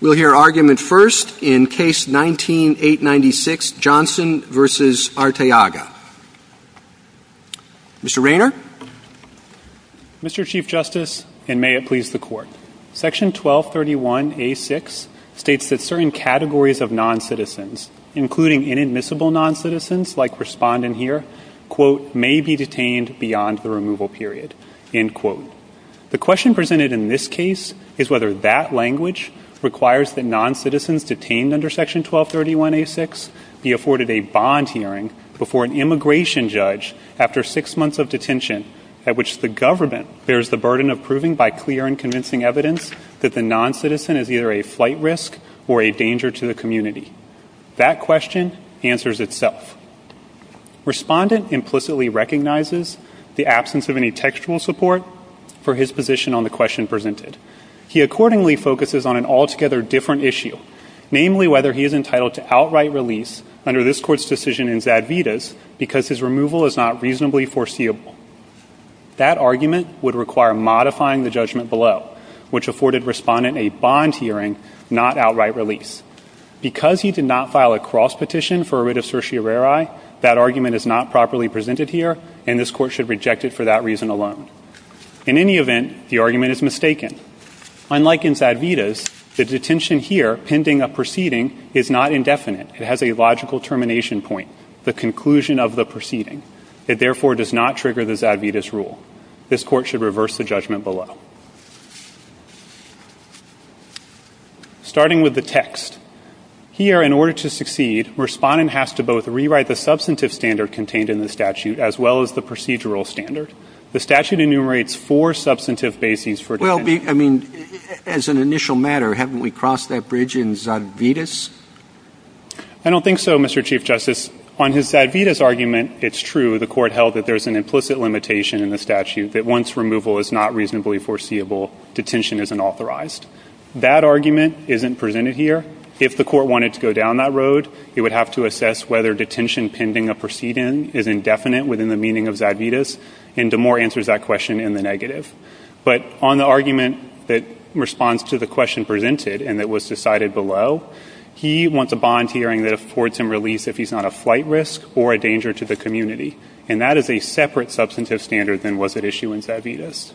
We'll hear argument first in Case 19-896, Johnson v. Arteaga. Mr. Raynor? Mr. Chief Justice, and may it please the Court, Section 1231A.6 states that certain categories of noncitizens, including inadmissible noncitizens like respondent here, quote, may be detained beyond the removal period, end quote. The question presented in this case is whether that language requires that noncitizens detained under Section 1231A.6 be afforded a bond hearing before an immigration judge after six months of detention at which the government bears the burden of proving by clear and convincing evidence that the noncitizen is either a flight risk or a danger to the community. That question answers itself. Respondent implicitly recognizes the absence of any textual support for his position on the question presented. He accordingly focuses on an altogether different issue, namely whether he is entitled to outright release under this Court's decision in Zadvidas because his removal is not reasonably foreseeable. That argument would require modifying the judgment below, which afforded Respondent a bond hearing, not outright release. Because he did not file a cross petition for a writ of certiorari, that argument is not properly presented here, and this Court should reject it for that reason alone. In any event, the argument is mistaken. Unlike in Zadvidas, the detention here, pending a proceeding, is not indefinite. It has a logical termination point, the conclusion of the proceeding. It therefore does not trigger the Zadvidas rule. This Court should reverse the judgment below. Starting with the text, here in order to succeed, Respondent has to both rewrite the substantive standard contained in the statute as well as the procedural standard. The statute enumerates four substantive bases for detention. Well, I mean, as an initial matter, haven't we crossed that bridge in Zadvidas? I don't think so, Mr. Chief Justice. On his Zadvidas argument, it's true the Court held that there's an implicit limitation in the statute that once removal is not reasonably foreseeable, detention isn't authorized. That argument isn't presented here. If the Court wanted to go down that road, it would have to assess whether detention pending a proceeding is indefinite within the meaning of Zadvidas, and Damore answers that question in the negative. But on the argument that responds to the question presented and that was decided below, he wants a bond hearing that affords him release if he's not a flight risk or a danger to the community. And that is a separate substantive standard than was at issue in Zadvidas.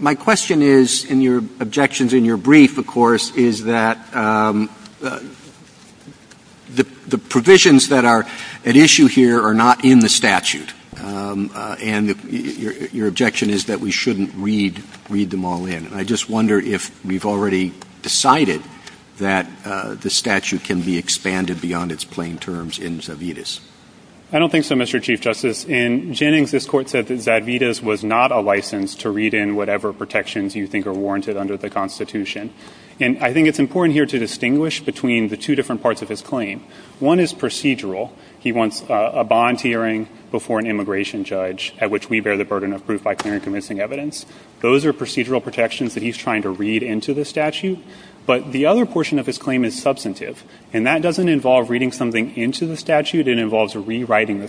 My question is, and your objection is in your brief, of course, is that the provisions that are at issue here are not in the statute. And your objection is that we shouldn't read them all in. And I just wonder if we've already decided that the statute can be expanded beyond its plain terms in Zadvidas. I don't think so, Mr. Chief Justice. In Jennings, this Court said that Zadvidas was not a license to read in whatever protections you think are warranted under the Constitution. And I think it's important here to distinguish between the two different parts of his claim. One is procedural. He wants a bond hearing before an immigration judge at which we bear the burden of proof by clear and convincing evidence. Those are procedural protections that he's trying to read into the statute. But the other portion of his claim is substantive. And that doesn't involve reading something into the statute. It involves rewriting the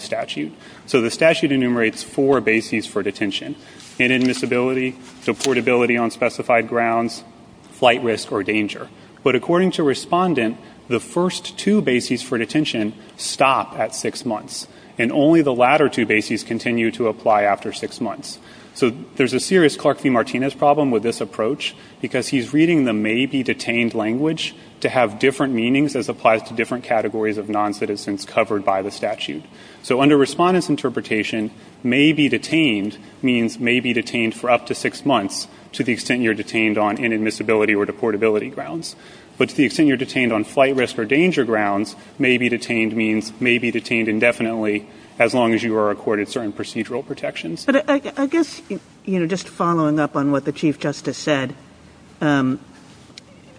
to portability on specified grounds, flight risk or danger. But according to Respondent, the first two bases for detention stop at six months. And only the latter two bases continue to apply after six months. So there's a serious Clark v. Martinez problem with this approach, because he's reading the may be detained language to have different meanings as applies to different categories of noncitizens covered by the statute. So under Respondent's interpretation, may be detained means may be detained for up to six months to the extent you're detained on inadmissibility or deportability grounds. But to the extent you're detained on flight risk or danger grounds, may be detained means may be detained indefinitely as long as you are accorded certain procedural protections. But I guess just following up on what the Chief Justice said,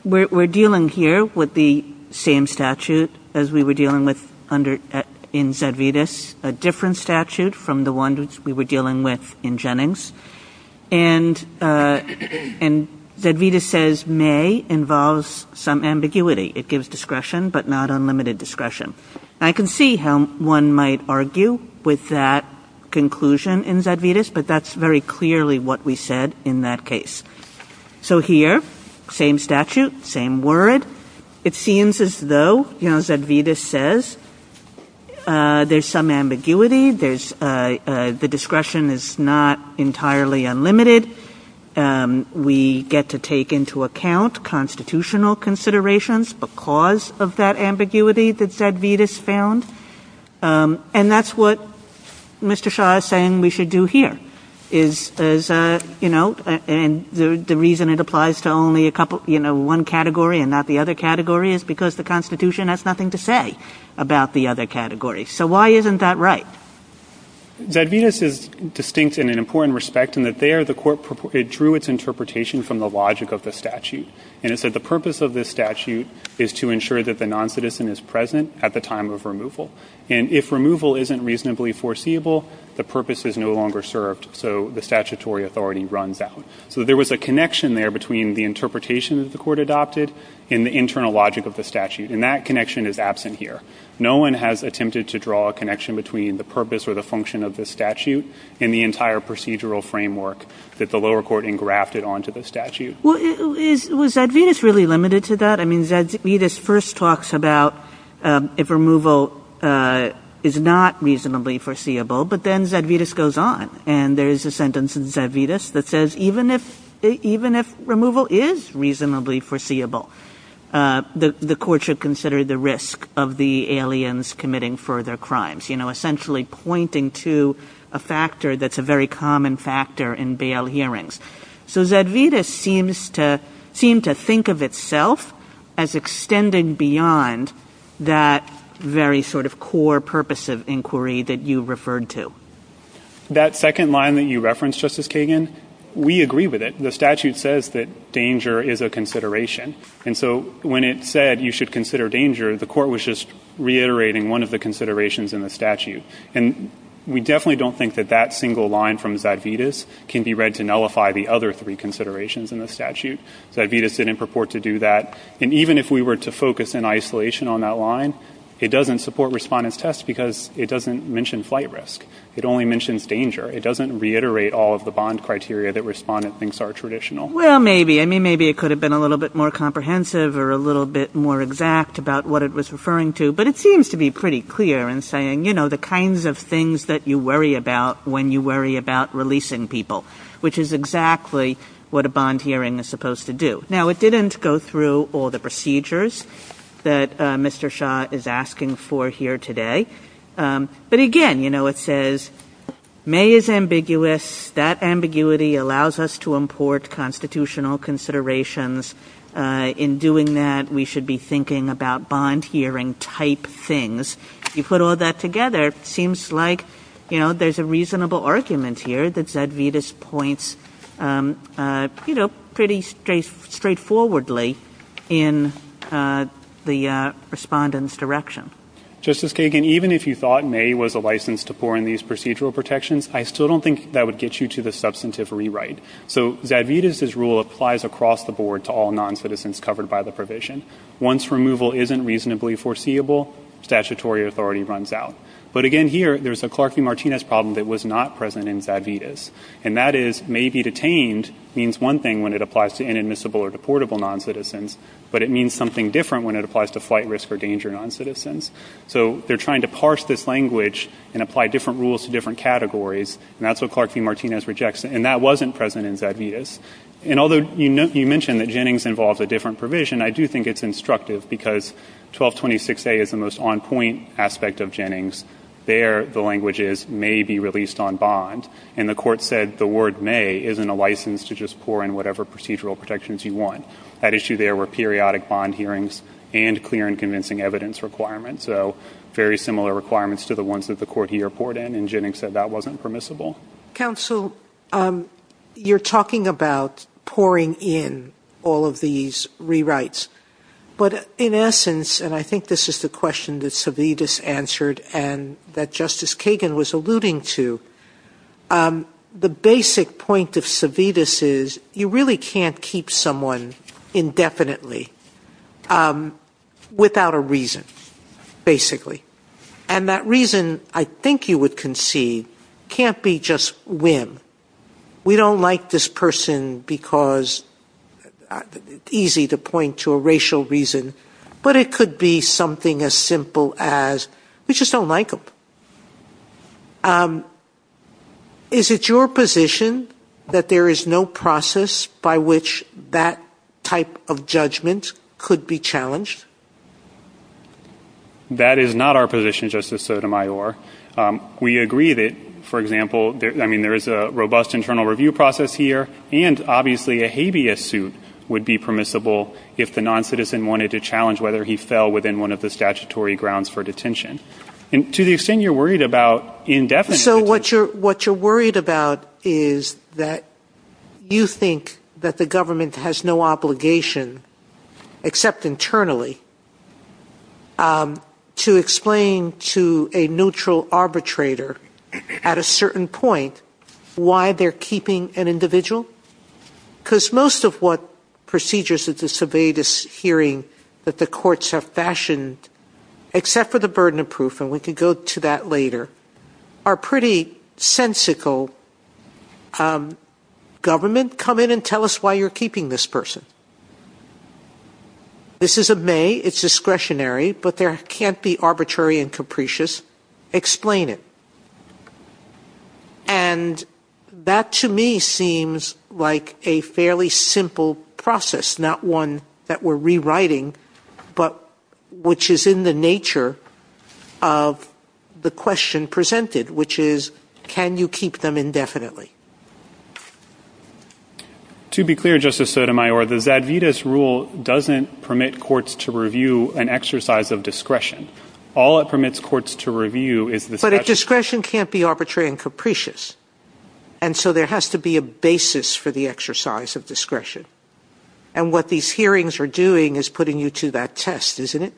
we're dealing here with the same statute as we were dealing with in Zedvitas, a different statute from the ones we were dealing with in Jennings. And Zedvitas says may involves some ambiguity. It gives discretion, but not unlimited discretion. I can see how one might argue with that conclusion in Zedvitas, but that's very clearly what we said in that case. So here, same statute, same word. It seems as though, you know, Zedvitas says there's some ambiguity. There's the discretion is not entirely unlimited. We get to take into account constitutional considerations because of that ambiguity that Zedvitas found. And that's what Mr. Shah is saying we should do here, is, you know, and the reason it applies to only a couple, you know, one category and not the other category is because the Constitution has nothing to say about the other category. So why isn't that right? Zedvitas is distinct in an important respect in that there the court drew its interpretation from the logic of the statute. And it said the purpose of this statute is to ensure that the non-citizen is present at the time of removal. And if removal isn't reasonably foreseeable, the purpose is no longer served. So the statutory authority runs out. So there was a connection there between the interpretation that the court adopted and the internal logic of the statute. And that connection is absent here. No one has attempted to draw a connection between the purpose or the function of the statute and the entire procedural framework that the lower court engrafted onto the statute. Was Zedvitas really limited to that? I mean, Zedvitas first talks about if removal is not reasonably foreseeable, but then Zedvitas goes on. And there is a sentence in Zedvitas that says even if removal is reasonably foreseeable, the court should consider the risk of the aliens committing further crimes. You know, essentially pointing to a factor that's a very common factor in bail hearings. So Zedvitas seems to think of itself as extending beyond that very sort of core purpose of inquiry that you referred to. That second line that you referenced, Justice Kagan, we agree with it. The statute says that danger is a consideration. And so when it said you should consider danger, the court was just reiterating one of the considerations in the statute. And we definitely don't think that that single line from Zedvitas can be read to nullify the other three considerations in the statute. Zedvitas didn't purport to do that. And even if we were to focus in isolation on that line, it doesn't support Respondent's test because it doesn't mention flight risk. It only mentions danger. It doesn't reiterate all of the bond criteria that Respondent thinks are traditional. Well, maybe. I mean, maybe it could have been a little bit more comprehensive or a little bit more exact about what it was referring to. But it seems to be pretty clear in saying, you know, the kinds of things that you worry about when you worry about releasing people, which is exactly what a bond hearing is supposed to do. Now, it didn't go through all the procedures that Mr. Shah is asking for here today. But again, you know, it says May is ambiguous. That ambiguity allows us to import constitutional considerations. In doing that, we should be thinking about bond hearing type things. You put all that together, it seems like, you know, there's a reasonable argument here that Zedvitas points, you know, pretty straightforwardly in the Respondent's direction. Justice Kagan, even if you thought May was a license to pour in these procedural protections, I still don't think that would get you to the substantive rewrite. So Zedvitas' rule applies across the board to all non-citizens covered by the provision. Once removal isn't reasonably foreseeable, statutory authority runs out. But again here, there's a Clark v. Martinez problem that was not present in Zedvitas. And that is May be detained means one thing when it applies to inadmissible or deportable non-citizens, but it means something different when it applies to flight risk or danger non-citizens. So they're trying to parse this language and apply different rules to different categories. And that's what Clark v. Martinez rejects. And that wasn't present in Zedvitas. And although you mentioned that Jennings involves a different provision, I do think it's instructive because 1226A is the most on-point aspect of Jennings. There, the language is May be released on bond. And the Court said the word May isn't a license to just pour in whatever procedural protections you want. That issue there were periodic bond hearings and clear and convincing evidence requirements, so very similar requirements to the ones that the Court here poured in. And Jennings said that wasn't permissible. Counsel, you're talking about pouring in all of these rewrites. But in essence, and I think this is the question that Zedvitas answered and that Justice Kagan was alluding to, the basic point of Zedvitas is you really can't keep someone indefinitely without a reason, basically. And that reason, I think you would concede, can't be just whim. We don't like this person because it's easy to point to a racial reason, but it could be something as simple as we just don't like them. Is it your position that there is no process by which that type of judgment could be challenged? That is not our position, Justice Sotomayor. We agree that, for example, I mean, there is a robust internal review process here, and obviously a habeas suit would be permissible if the noncitizen wanted to challenge whether he fell within one of the statutory grounds for detention. And to the extent you're worried about indefinite detention. So what you're worried about is that you think that the government has no obligation, except internally, to explain to a neutral arbitrator at a certain point why they're keeping an individual? Because most of what procedures at the Zedvitas hearing that the courts have fashioned, except for the burden of proof, and we can go to that later, are pretty sensical. Government, come in and tell us why you're keeping this person. This is a may. It's discretionary, but there can't be arbitrary and capricious. Explain it. And that, to me, seems like a fairly simple process, not one that we're rewriting, but which is in the nature of the question presented, which is, can you keep them indefinitely? To be clear, Justice Sotomayor, the Zedvitas rule doesn't permit courts to review an exercise of discretion. All it permits courts to review is the statute. But a discretion can't be arbitrary and capricious. And so there has to be a basis for the exercise of discretion. And what these hearings are doing is putting you to that test, isn't it?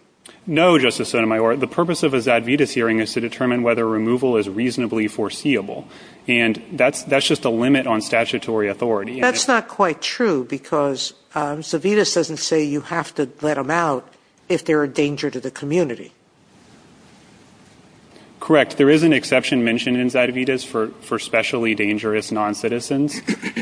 No, Justice Sotomayor. The purpose of a Zedvitas hearing is to determine whether removal is reasonably foreseeable. And that's just a limit on statutory authority. That's not quite true, because Zedvitas doesn't say you have to let them out if they're a danger to the community. Correct. There is an exception mentioned in Zedvitas for specially dangerous noncitizens.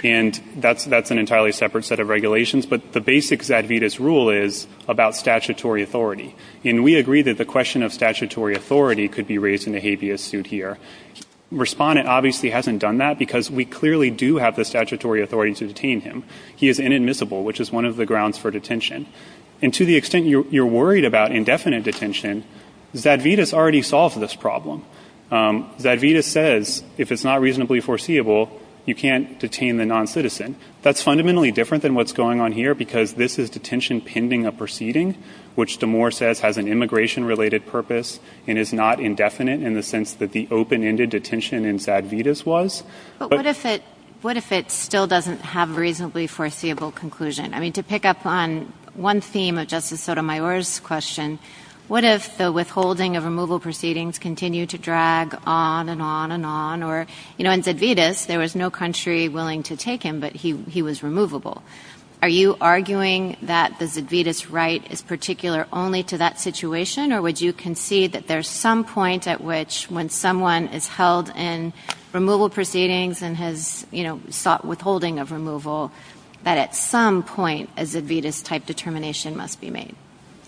And that's an entirely separate set of regulations. But the basic Zedvitas rule is about statutory authority. And we agree that the question of statutory authority could be raised in a habeas suit here. Respondent obviously hasn't done that, because we clearly do have the statutory authority to detain him. He is inadmissible, which is one of the grounds for detention. And to the extent you're worried about indefinite detention, Zedvitas already solves this problem. Zedvitas says if it's not reasonably foreseeable, you can't detain the noncitizen. That's fundamentally different than what's going on here, because this is detention pending a proceeding, which Damore says has an immigration-related purpose and is not indefinite in the sense that the open-ended detention in Zedvitas was. But what if it still doesn't have a reasonably foreseeable conclusion? I mean, to pick up on one theme of Justice Sotomayor's question, what if the withholding of removal proceedings continued to drag on and on and on? In Zedvitas, there was no country willing to take him, but he was removable. Are you arguing that the Zedvitas right is particular only to that situation, or would you concede that there's some point at which when someone is held in removal proceedings and has sought withholding of removal, that at some point a Zedvitas-type determination must be made?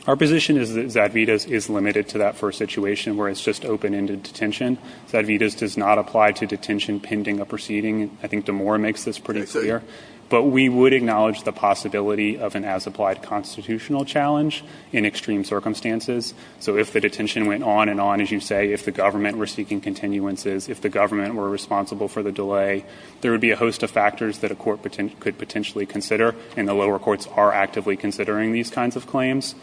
Our position is that Zedvitas is limited to that first situation where it's just open-ended detention. Zedvitas does not apply to detention pending a proceeding. I think Damore makes this pretty clear. But we would acknowledge the possibility of an as-applied constitutional challenge in extreme circumstances. So if the detention went on and on, as you say, if the government were seeking continuances, if the government were responsible for the delay, there would be a host of factors that a court could potentially consider, and the lower courts are actively considering these kinds of claims.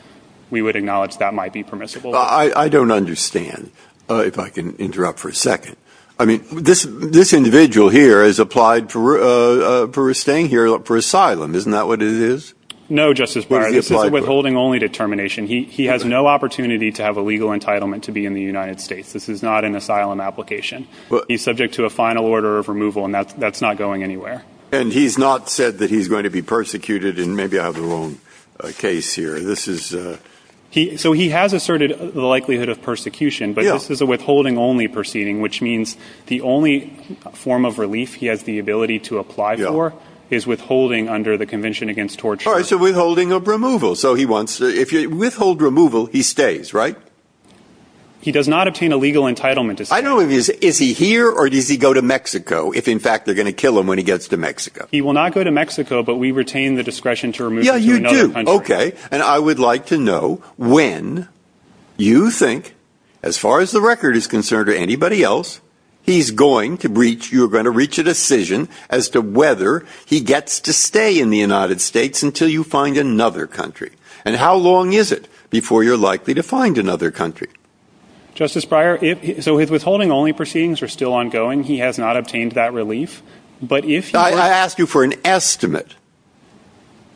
We would acknowledge that might be permissible. I don't understand, if I can interrupt for a second. I mean, this individual here has applied for staying here for asylum. Isn't that what it is? No, Justice Breyer. This is a withholding-only determination. He has no opportunity to have a legal entitlement to be in the United States. This is not an asylum application. He's subject to a final order of removal, and that's not going anywhere. And he's not said that he's going to be persecuted, and maybe I have the wrong case here. So he has asserted the likelihood of persecution, but this is a withholding-only proceeding, which means the only form of relief he has the ability to apply for is withholding under the Convention Against Torture. All right, so withholding of removal. So he wants to withhold removal, he stays, right? He does not obtain a legal entitlement to stay. I don't know if he's here or does he go to Mexico, if, in fact, they're going to kill him when he gets to Mexico. He will not go to Mexico, but we retain the discretion to remove him to another country. Yeah, you do. Okay. And I would like to know when you think, as far as the record is concerned or anybody else, he's going to reach, you're going to reach a decision as to whether he gets to stay in the United States until you find another country. And how long is it before you're likely to find another country? Justice Breyer, so his withholding-only proceedings are still ongoing. He has not obtained that relief. I ask you for an estimate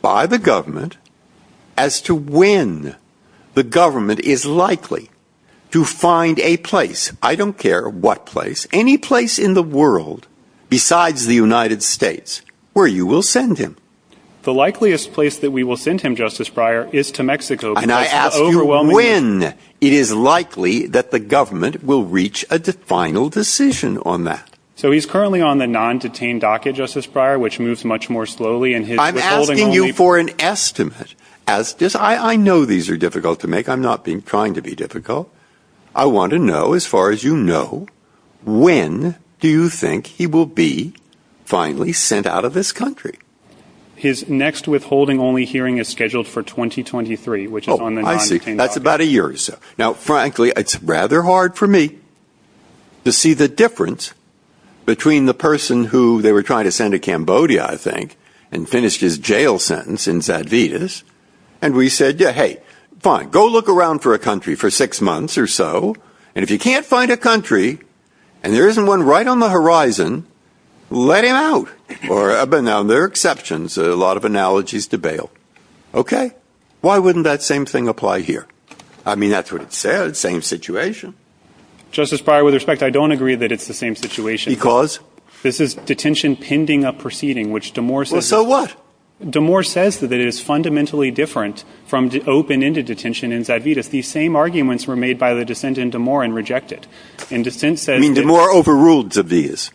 by the government as to when the government is likely to find a place, I don't care what place, any place in the world besides the United States, where you will send him. The likeliest place that we will send him, Justice Breyer, is to Mexico. And I ask you when it is likely that the government will reach a final decision on that. So he's currently on the non-detained docket, Justice Breyer, which moves much more slowly. I'm asking you for an estimate. I know these are difficult to make. I'm not trying to be difficult. I want to know, as far as you know, when do you think he will be finally sent out of this country? His next withholding-only hearing is scheduled for 2023, which is on the non-detained docket. Oh, I see. That's about a year or so. Now, frankly, it's rather hard for me to see the difference between the person who they were trying to send to Cambodia, I think, and finished his jail sentence in Zadvydas. And we said, yeah, hey, fine, go look around for a country for six months or so. And if you can't find a country and there isn't one right on the horizon, let him out. Now, there are exceptions. A lot of analogies to bail. Okay. Why wouldn't that same thing apply here? I mean, that's what it said, same situation. Justice Breyer, with respect, I don't agree that it's the same situation. Because? This is detention pending a proceeding, which Damore says. Well, so what? Damore says that it is fundamentally different from open-ended detention in Zadvydas. These same arguments were made by the dissent in Damore and rejected. And dissent says that. I mean, Damore overruled Zadvydas.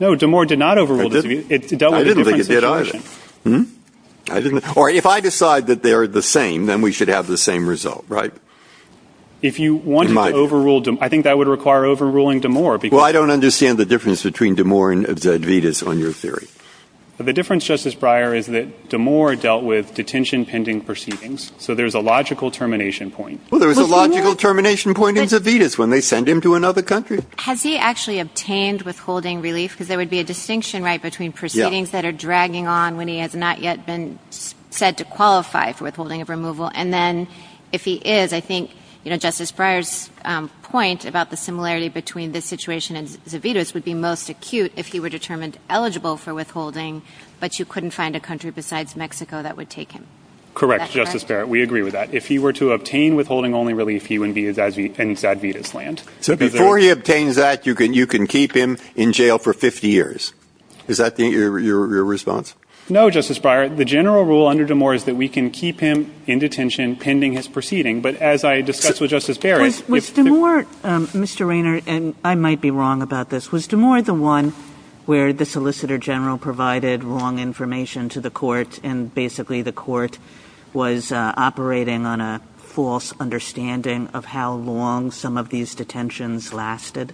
No, Damore did not overrule Zadvydas. It dealt with a different situation. I didn't think it did, either. Hmm? Or if I decide that they are the same, then we should have the same result, right? If you want to overrule Damore, I think that would require overruling Damore. Well, I don't understand the difference between Damore and Zadvydas on your theory. The difference, Justice Breyer, is that Damore dealt with detention pending proceedings. So there's a logical termination point. Well, there's a logical termination point in Zadvydas when they send him to another country. Has he actually obtained withholding relief? Because there would be a distinction, right, between proceedings that are dragging on when he has not yet been said to qualify for withholding of removal. And then if he is, I think, you know, Justice Breyer's point about the similarity between this situation and Zadvydas would be most acute if he were determined eligible for withholding, but you couldn't find a country besides Mexico that would take him. Correct, Justice Barrett. We agree with that. If he were to obtain withholding-only relief, he would be in Zadvydas land. So before he obtains that, you can keep him in jail for 50 years. Is that your response? No, Justice Breyer. The general rule under Damore is that we can keep him in detention pending his proceeding. But as I discussed with Justice Barrett- Was Damore, Mr. Raynor, and I might be wrong about this, was Damore the one where the Solicitor General provided wrong information to the court and basically the court was operating on a false understanding of how long some of these detentions lasted?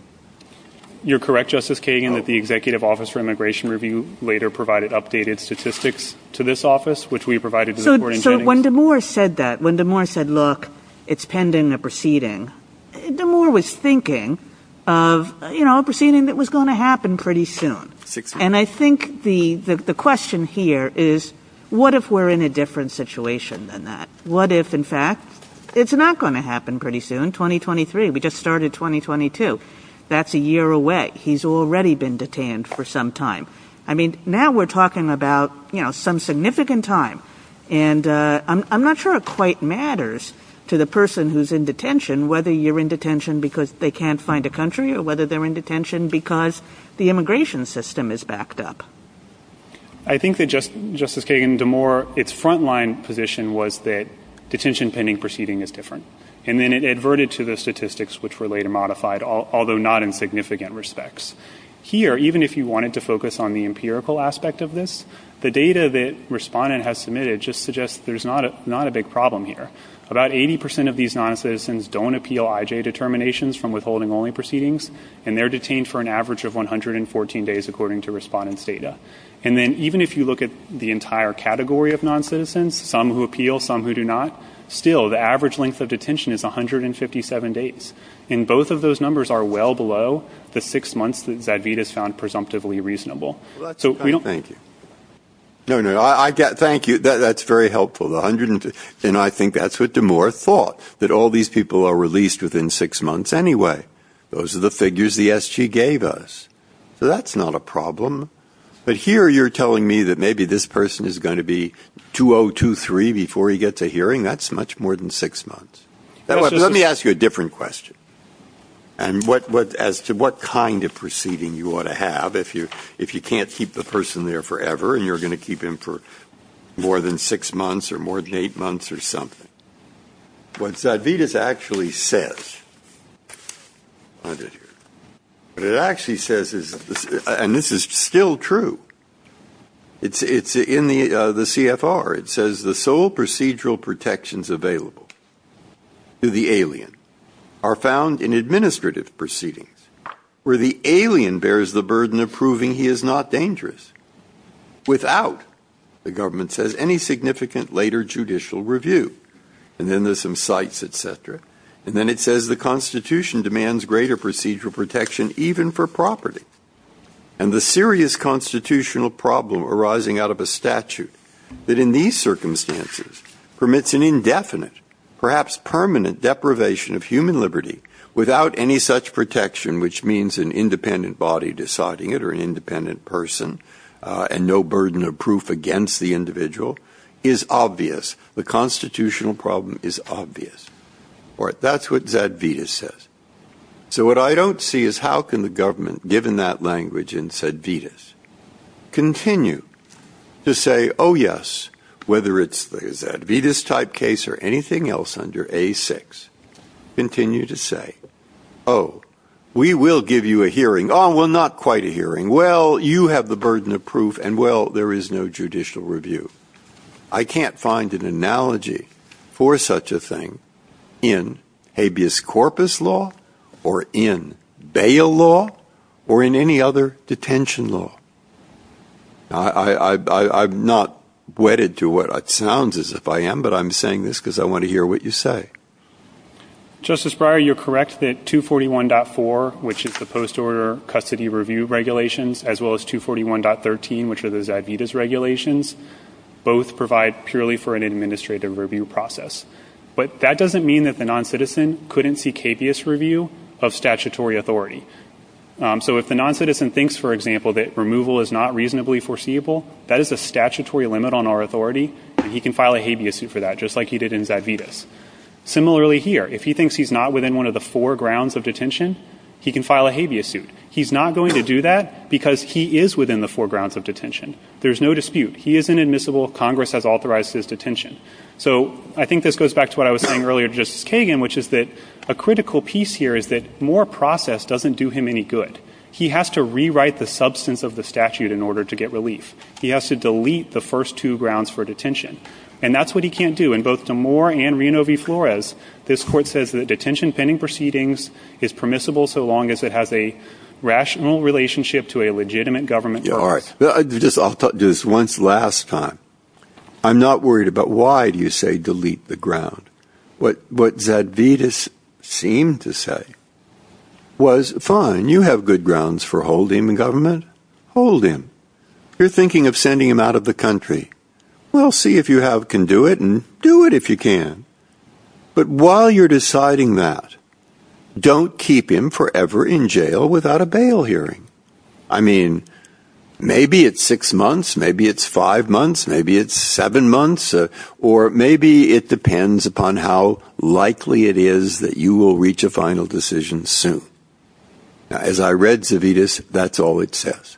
You're correct, Justice Kagan, that the Executive Office for Immigration Review later provided updated statistics to this office, which we provided to the court in Jennings. So when Damore said that, when Damore said, look, it's pending a proceeding, Damore was thinking of a proceeding that was going to happen pretty soon. And I think the question here is what if we're in a different situation than that? What if, in fact, it's not going to happen pretty soon, 2023? We just started 2022. That's a year away. He's already been detained for some time. I mean, now we're talking about, you know, some significant time. And I'm not sure it quite matters to the person who's in detention whether you're in detention because they can't find a country or whether they're in detention because the immigration system is backed up. I think that, Justice Kagan, Damore, its front-line position was that detention pending proceeding is different. And then it adverted to the statistics, which were later modified, although not in significant respects. Here, even if you wanted to focus on the empirical aspect of this, the data that Respondent has submitted just suggests there's not a big problem here. About 80 percent of these noncitizens don't appeal IJ determinations from withholding-only proceedings, and they're detained for an average of 114 days according to Respondent's data. And then even if you look at the entire category of noncitizens, some who appeal, some who do not, still the average length of detention is 157 days. And both of those numbers are well below the six months that Zadvydas found presumptively reasonable. So we don't- Thank you. No, no, thank you. That's very helpful. And I think that's what Damore thought, that all these people are released within six months anyway. Those are the figures the SG gave us. So that's not a problem. But here you're telling me that maybe this person is going to be 2023 before he gets a hearing. That's much more than six months. Let me ask you a different question as to what kind of proceeding you ought to have if you can't keep the person there forever and you're going to keep him for more than six months or more than eight months or something. What Zadvydas actually says, and this is still true, it's in the CFR, it says the sole procedural protections available to the alien are found in administrative proceedings where the alien bears the burden of proving he is not dangerous without, the government says, any significant later judicial review. And then there's some cites, et cetera. And then it says the Constitution demands greater procedural protection even for property. And the serious constitutional problem arising out of a statute that in these circumstances permits an indefinite, perhaps permanent deprivation of human liberty without any such protection, which means an independent body deciding it or an independent person and no burden of proof against the individual is obvious. The constitutional problem is obvious. That's what Zadvydas says. So what I don't see is how can the government, given that language in Zadvydas, continue to say, oh, yes, whether it's the Zadvydas type case or anything else under A6, continue to say, oh, we will give you a hearing. Oh, well, not quite a hearing. Well, you have the burden of proof. And, well, there is no judicial review. I can't find an analogy for such a thing in habeas corpus law or in bail law or in any other detention law. I'm not wedded to what it sounds as if I am, but I'm saying this because I want to hear what you say. Justice Breyer, you're correct that 241.4, which is the post-order custody review regulations, as well as 241.13, which are the Zadvydas regulations, both provide purely for an administrative review process. But that doesn't mean that the noncitizen couldn't see capious review of statutory authority. So if the noncitizen thinks, for example, that removal is not reasonably foreseeable, that is a statutory limit on our authority, and he can file a habeas suit for that, just like he did in Zadvydas. Similarly here, if he thinks he's not within one of the four grounds of detention, he can file a habeas suit. He's not going to do that because he is within the four grounds of detention. There's no dispute. He is inadmissible. Congress has authorized his detention. So I think this goes back to what I was saying earlier to Justice Kagan, which is that a critical piece here is that Moore process doesn't do him any good. He has to rewrite the substance of the statute in order to get relief. He has to delete the first two grounds for detention. And that's what he can't do. And both to Moore and Reno v. Flores, this court says that detention pending proceedings is permissible so long as it has a rational relationship to a legitimate government process. All right. I'll talk to this once last time. I'm not worried about why do you say delete the ground. What Zadvydas seemed to say was, fine, you have good grounds for holding the government. Hold him. You're thinking of sending him out of the country. We'll see if you can do it and do it if you can. But while you're deciding that, don't keep him forever in jail without a bail hearing. I mean, maybe it's six months. Maybe it's five months. Maybe it's seven months. Or maybe it depends upon how likely it is that you will reach a final decision soon. As I read Zadvydas, that's all it says.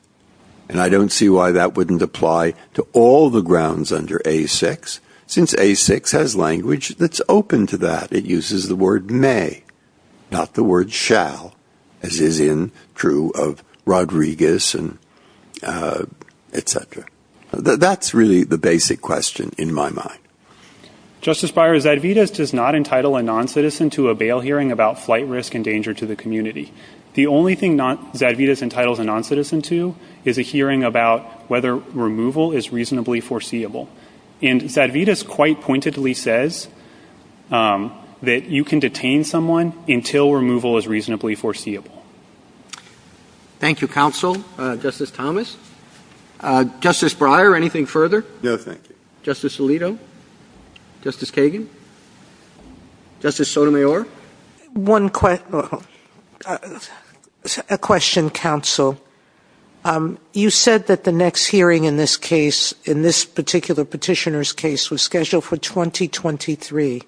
And I don't see why that wouldn't apply to all the grounds under A-6, since A-6 has language that's open to that. It uses the word may, not the word shall, as is true of Rodriguez and et cetera. That's really the basic question in my mind. Justice Breyer, Zadvydas does not entitle a noncitizen to a bail hearing about flight risk and danger to the community. The only thing Zadvydas entitles a noncitizen to is a hearing about whether removal is reasonably foreseeable. And Zadvydas quite pointedly says that you can detain someone until removal is reasonably foreseeable. Thank you, Counsel. Justice Thomas. Justice Breyer, anything further? No, thank you. Justice Alito. Justice Kagan. Justice Sotomayor. One question, Counsel. You said that the next hearing in this case, in this particular petitioner's case, was scheduled for 2023.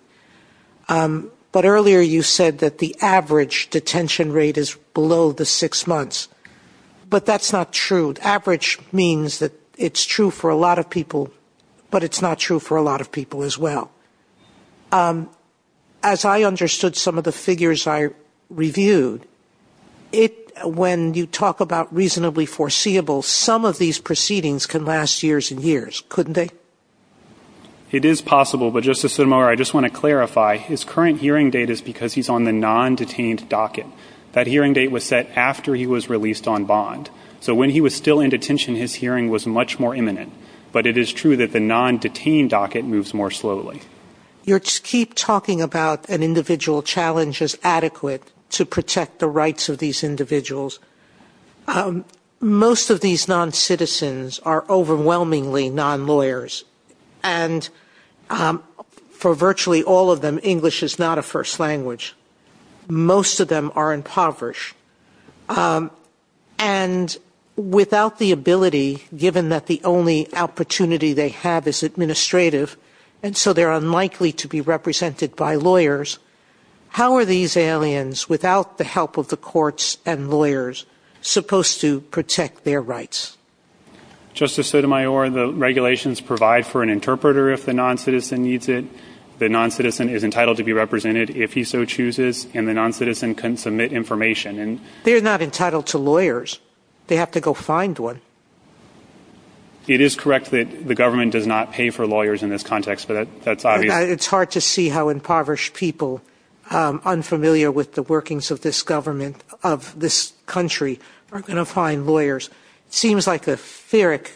But earlier you said that the average detention rate is below the six months. But that's not true. Average means that it's true for a lot of people, but it's not true for a lot of people as well. As I understood some of the figures I reviewed, when you talk about reasonably foreseeable, some of these proceedings can last years and years, couldn't they? It is possible. But, Justice Sotomayor, I just want to clarify, his current hearing date is because he's on the non-detained docket. That hearing date was set after he was released on bond. So when he was still in detention, his hearing was much more imminent. But it is true that the non-detained docket moves more slowly. You keep talking about an individual challenge is adequate to protect the rights of these individuals. Most of these non-citizens are overwhelmingly non-lawyers. And for virtually all of them, English is not a first language. Most of them are impoverished. And without the ability, given that the only opportunity they have is administrative, and so they're unlikely to be represented by lawyers, how are these aliens, without the help of the courts and lawyers, supposed to protect their rights? Justice Sotomayor, the regulations provide for an interpreter if the non-citizen needs it. The non-citizen is entitled to be represented if he so chooses, and the non-citizen can submit information. They're not entitled to lawyers. They have to go find one. It is correct that the government does not pay for lawyers in this context, but that's obvious. It's hard to see how impoverished people, unfamiliar with the workings of this government, of this country, are going to find lawyers. It seems like a phyrrhic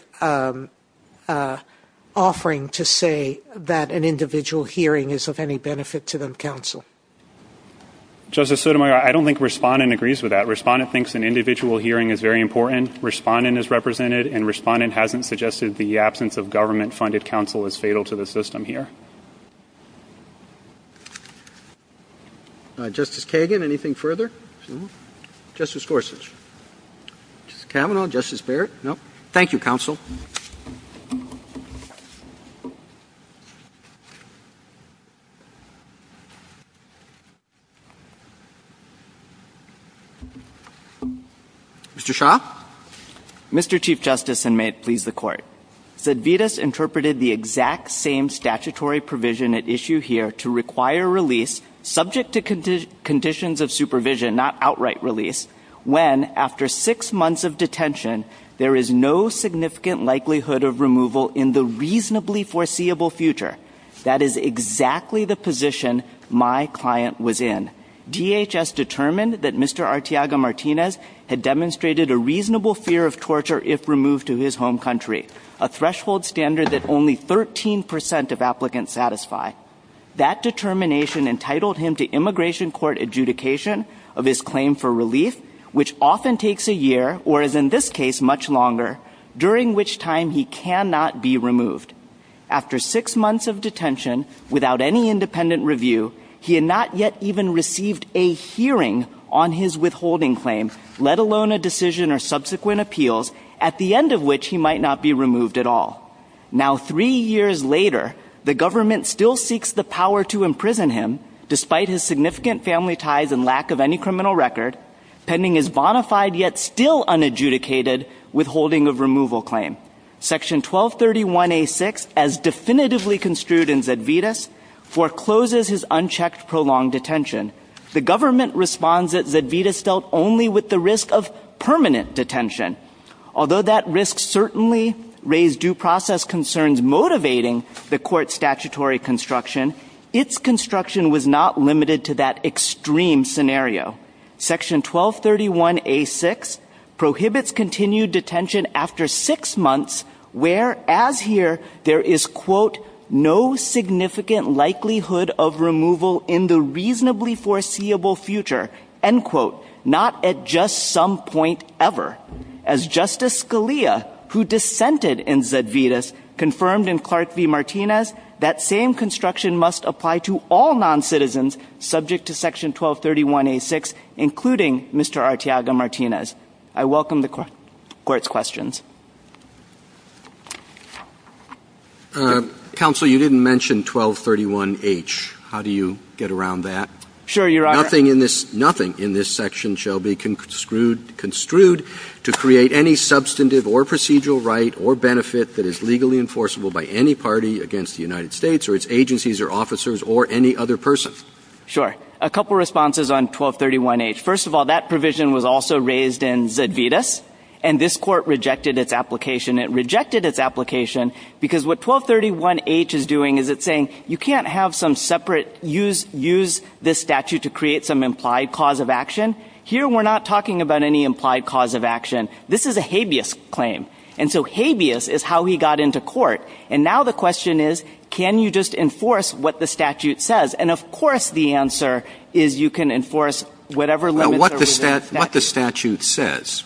offering to say that an individual hearing is of any benefit to them counsel. Justice Sotomayor, I don't think Respondent agrees with that. Respondent thinks an individual hearing is very important. Respondent is represented, and Respondent hasn't suggested the absence of government-funded counsel is fatal to the system here. Justice Kagan, anything further? Justice Gorsuch? Justice Kavanaugh? Justice Barrett? No? Thank you, Counsel. Mr. Shah? Mr. Chief Justice, and may it please the Court, Zedvedos interpreted the exact same statutory provision at issue here to require release, subject to conditions of supervision, not outright release, when, after six months of detention, there is no significant likelihood of removal in the reasonably foreseeable future. That is exactly the position my client was in. DHS determined that Mr. Arteaga-Martinez had demonstrated a reasonable fear of torture if removed to his home country, a threshold standard that only 13 percent of applicants satisfy. That determination entitled him to immigration court adjudication of his claim for relief, which often takes a year, or is in this case much longer, during which time he cannot be removed. After six months of detention, without any independent review, he had not yet even received a hearing on his withholding claim, let alone a decision or subsequent appeals, at the end of which he might not be removed at all. Now, three years later, the government still seeks the power to imprison him, despite his significant family ties and lack of any criminal record, pending his bonafide yet still unadjudicated withholding of removal claim. Section 1231A.6, as definitively construed in Zedvedos, forecloses his unchecked prolonged detention. The government responds that Zedvedos dealt only with the risk of permanent detention. Although that risk certainly raised due process concerns motivating the court's statutory construction, its construction was not limited to that extreme scenario. Section 1231A.6 prohibits continued detention after six months, whereas here there is, quote, no significant likelihood of removal in the reasonably foreseeable future, end quote, not at just some point ever. As Justice Scalia, who dissented in Zedvedos, confirmed in Clark v. Martinez, that same construction must apply to all noncitizens subject to Section 1231A.6, including Mr. Arteaga-Martinez. I welcome the Court's questions. Counsel, you didn't mention 1231H. How do you get around that? Sure, Your Honor. Nothing in this section shall be construed to create any substantive or procedural right or benefit that is legally enforceable by any party against the United States or its agencies or officers or any other person. Sure. A couple responses on 1231H. First of all, that provision was also raised in Zedvedos, and this Court rejected its application. It rejected its application because what 1231H is doing is it's saying you can't have some separate use this statute to create some implied cause of action. Here we're not talking about any implied cause of action. This is a habeas claim. And so habeas is how he got into court. And now the question is, can you just enforce what the statute says? And of course the answer is you can enforce whatever limits are within statute. Now, what the statute says?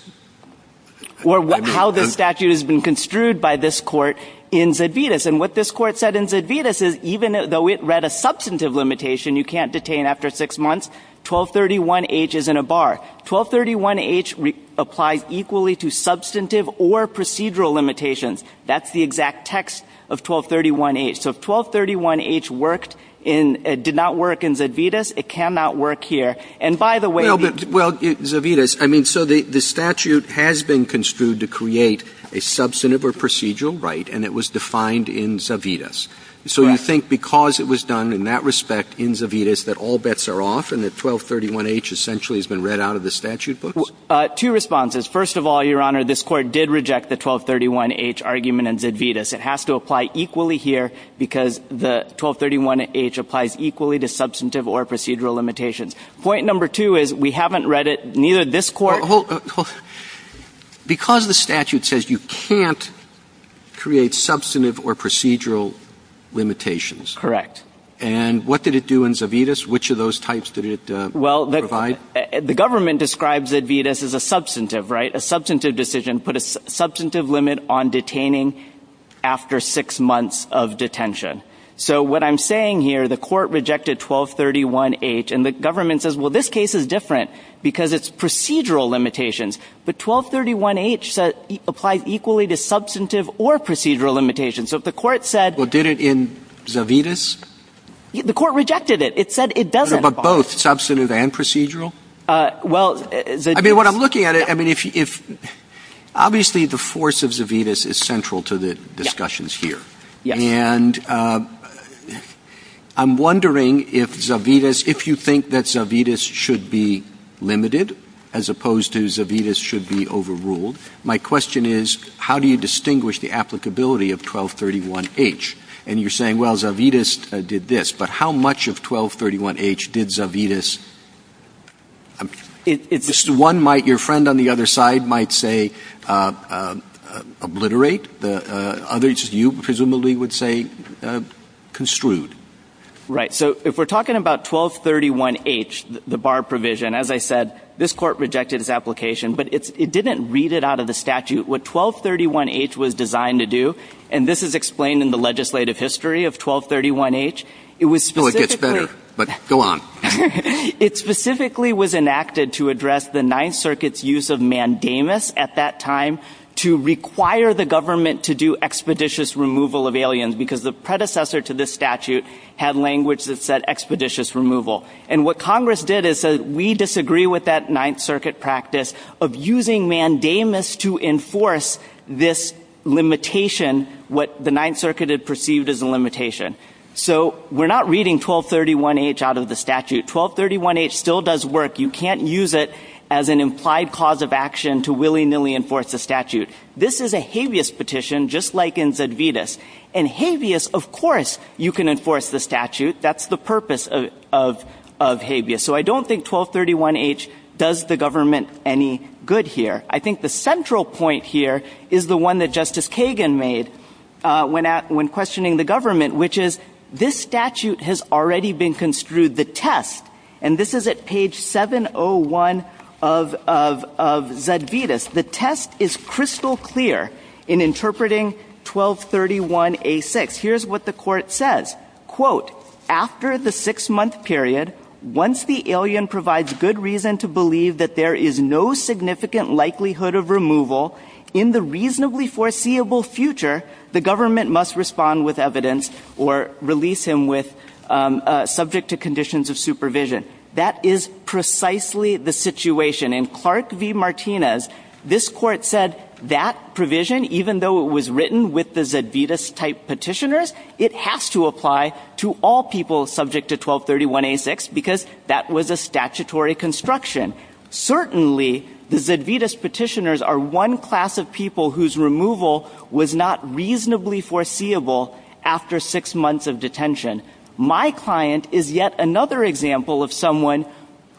Or how the statute has been construed by this Court in Zedvedos. And what this Court said in Zedvedos is even though it read a substantive limitation you can't detain after six months, 1231H is in a bar. 1231H applies equally to substantive or procedural limitations. That's the exact text of 1231H. So if 1231H worked in ñ did not work in Zedvedos, it cannot work here. And by the way, the ñ the statute has been construed to create a substantive or procedural right, and it was defined in Zedvedos. So you think because it was done in that respect in Zedvedos that all bets are off and that 1231H essentially has been read out of the statute books? Two responses. First of all, Your Honor, this Court did reject the 1231H argument in Zedvedos. It has to apply equally here because the 1231H applies equally to substantive or procedural limitations. Point number two is we haven't read it, neither this Court ñ because the statute says you can't create substantive or procedural limitations. Correct. And what did it do in Zedvedos? Which of those types did it provide? Well, the government describes Zedvedos as a substantive, right, a substantive decision, put a substantive limit on detaining after six months of detention. So what I'm saying here, the Court rejected 1231H, and the government says, well, this case is different because it's procedural limitations. But 1231H applies equally to substantive or procedural limitations. So if the Court said ñ Well, did it in Zedvedos? The Court rejected it. It said it doesn't apply. But both substantive and procedural? Well, Zedvedos ñ I mean, when I'm looking at it, I mean, if ñ obviously, the force of Zedvedos is central to the discussions here. Yes. And I'm wondering if Zedvedos ñ if you think that Zedvedos should be limited as opposed to Zedvedos should be overruled. My question is, how do you distinguish the applicability of 1231H? And you're saying, well, Zedvedos did this. But how much of 1231H did Zedvedos ñ one might ñ your friend on the other side might say obliterate. The others, you presumably would say construed. Right. So if we're talking about 1231H, the bar provision, as I said, this Court rejected its application. But it didn't read it out of the statute what 1231H was designed to do. And this is explained in the legislative history of 1231H. It was specifically ñ No, it gets better. But go on. It specifically was enacted to address the Ninth Circuit's use of mandamus at that time to require the government to do expeditious removal of aliens, because the predecessor to this statute had language that said expeditious removal. And what Congress did is say, we disagree with that Ninth Circuit practice of using mandamus to enforce this limitation, what the Ninth Circuit had perceived as a limitation. So we're not reading 1231H out of the statute. 1231H still does work. You can't use it as an implied cause of action to willy-nilly enforce the statute. This is a habeas petition, just like in Zedvitas. And habeas, of course, you can enforce the statute. That's the purpose of habeas. So I don't think 1231H does the government any good here. I think the central point here is the one that Justice Kagan made when questioning the government, which is this statute has already been construed the test, and this is at page 701 of Zedvitas. The test is crystal clear in interpreting 1231A6. Here's what the Court says. Quote, after the six-month period, once the alien provides good reason to believe that there is no significant likelihood of removal in the reasonably foreseeable future, the government must respond with evidence or release him subject to conditions of supervision. That is precisely the situation. In Clark v. Martinez, this Court said that provision, even though it was written with the Zedvitas-type petitioners, it has to apply to all people subject to 1231A6 because that was a statutory construction. Certainly, the Zedvitas petitioners are one class of people whose removal was not reasonably foreseeable after six months of detention. My client is yet another example of someone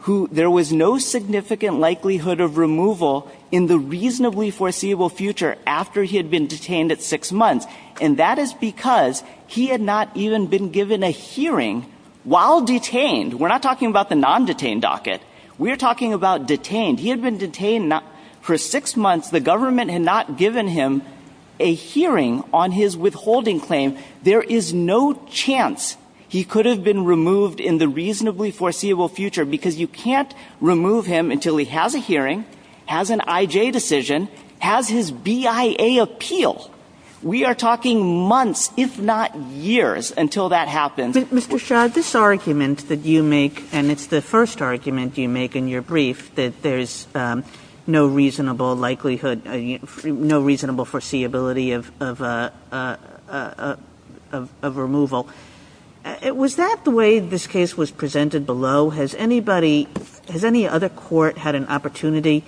who there was no significant likelihood of removal in the reasonably foreseeable future after he had been detained at six months, and that is because he had not even been given a hearing while detained. We're not talking about the non-detained docket. We are talking about detained. He had been detained for six months. The government had not given him a hearing on his withholding claim. There is no chance he could have been removed in the reasonably foreseeable future because you can't remove him until he has a hearing, has an IJ decision, has his BIA appeal. We are talking months, if not years, until that happens. Kagan. Mr. Shah, this argument that you make, and it's the first argument you make in your case of removal, was that the way this case was presented below? Has anybody, has any other court had an opportunity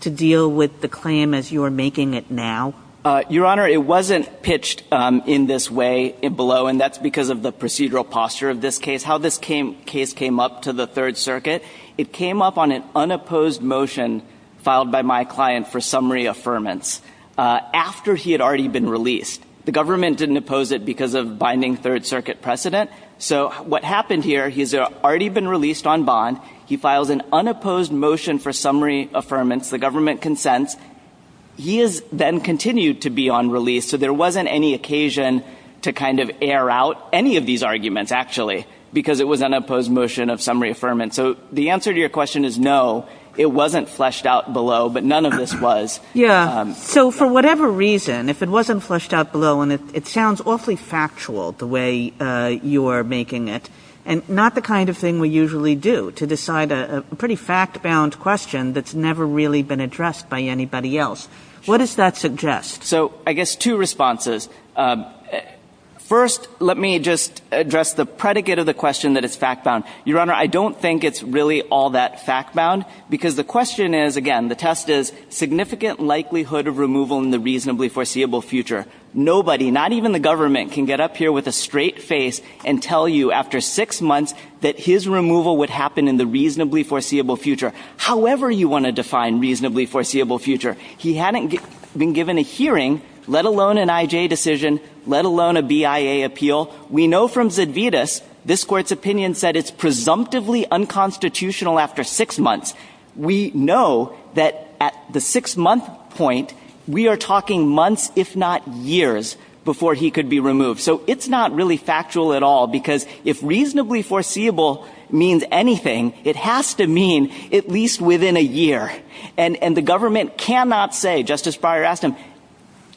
to deal with the claim as you are making it now? Your Honor, it wasn't pitched in this way below, and that's because of the procedural posture of this case. How this case came up to the Third Circuit, it came up on an unopposed motion filed by my client for summary affirmance after he had already been released. The government didn't oppose it because of binding Third Circuit precedent. So what happened here, he's already been released on bond. He files an unopposed motion for summary affirmance. The government consents. He has then continued to be on release, so there wasn't any occasion to kind of air out any of these arguments, actually, because it was an unopposed motion of summary affirmance. So the answer to your question is no, it wasn't fleshed out below, but none of this was. Yeah. So for whatever reason, if it wasn't fleshed out below, and it sounds awfully factual, the way you are making it, and not the kind of thing we usually do to decide a pretty fact-bound question that's never really been addressed by anybody else, what does that suggest? So I guess two responses. First, let me just address the predicate of the question that it's fact-bound. Your Honor, I don't think it's really all that fact-bound because the question is, again, the test is significant likelihood of removal in the reasonably foreseeable future. Nobody, not even the government, can get up here with a straight face and tell you after six months that his removal would happen in the reasonably foreseeable future, however you want to define reasonably foreseeable future. He hadn't been given a hearing, let alone an IJ decision, let alone a BIA appeal. We know from Zedvitas this Court's opinion said it's presumptively unconstitutional after six months. We know that at the six-month point, we are talking months, if not years, before he could be removed. So it's not really factual at all because if reasonably foreseeable means anything, it has to mean at least within a year. And the government cannot say, Justice Breyer asked him,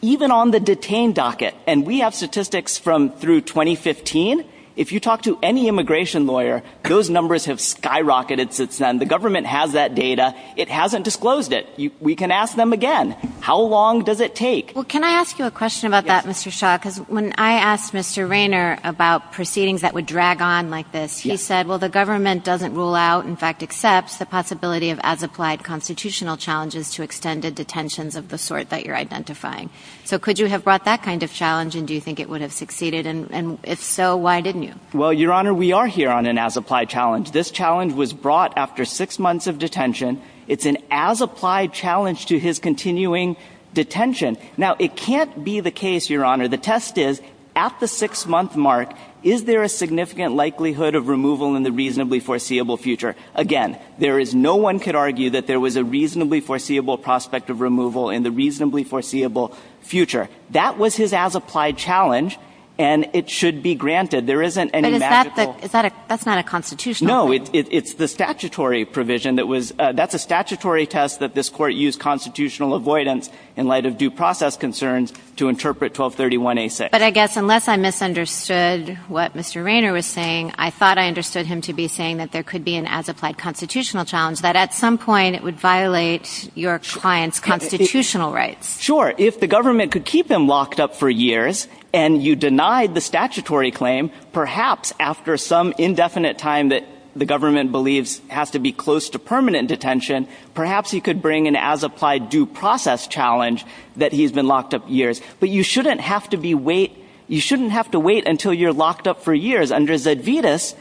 even on the detained docket, and we have statistics from through 2015, if you talk to any immigration lawyer, those numbers have skyrocketed since then. The government has that data. It hasn't disclosed it. We can ask them again. How long does it take? Well, can I ask you a question about that, Mr. Shah? Because when I asked Mr. Rayner about proceedings that would drag on like this, he said, well, the government doesn't rule out, in fact, accepts the possibility of as-applied constitutional challenges to extended detentions of the sort that you're identifying. So could you have brought that kind of challenge, and do you think it would have succeeded? And if so, why didn't you? Well, Your Honor, we are here on an as-applied challenge. This challenge was brought after six months of detention. It's an as-applied challenge to his continuing detention. Now, it can't be the case, Your Honor, the test is, at the six-month mark, is there a significant likelihood of removal in the reasonably foreseeable future? Again, there is no one could argue that there was a reasonably foreseeable prospect of removal in the reasonably foreseeable future. That was his as-applied challenge, and it should be granted. There isn't any magical – No, it's the statutory provision that was – that's a statutory test that this Court used constitutional avoidance in light of due process concerns to interpret 1231A6. But I guess, unless I misunderstood what Mr. Raynor was saying, I thought I understood him to be saying that there could be an as-applied constitutional challenge, that at some point it would violate your client's constitutional rights. Sure. If the government could keep him locked up for years, and you denied the statutory claim, perhaps after some indefinite time that the government believes has to be close to permanent detention, perhaps you could bring an as-applied due process challenge that he's been locked up years. But you shouldn't have to be wait – you shouldn't have to wait until you're locked up for years. Under Zedvitas,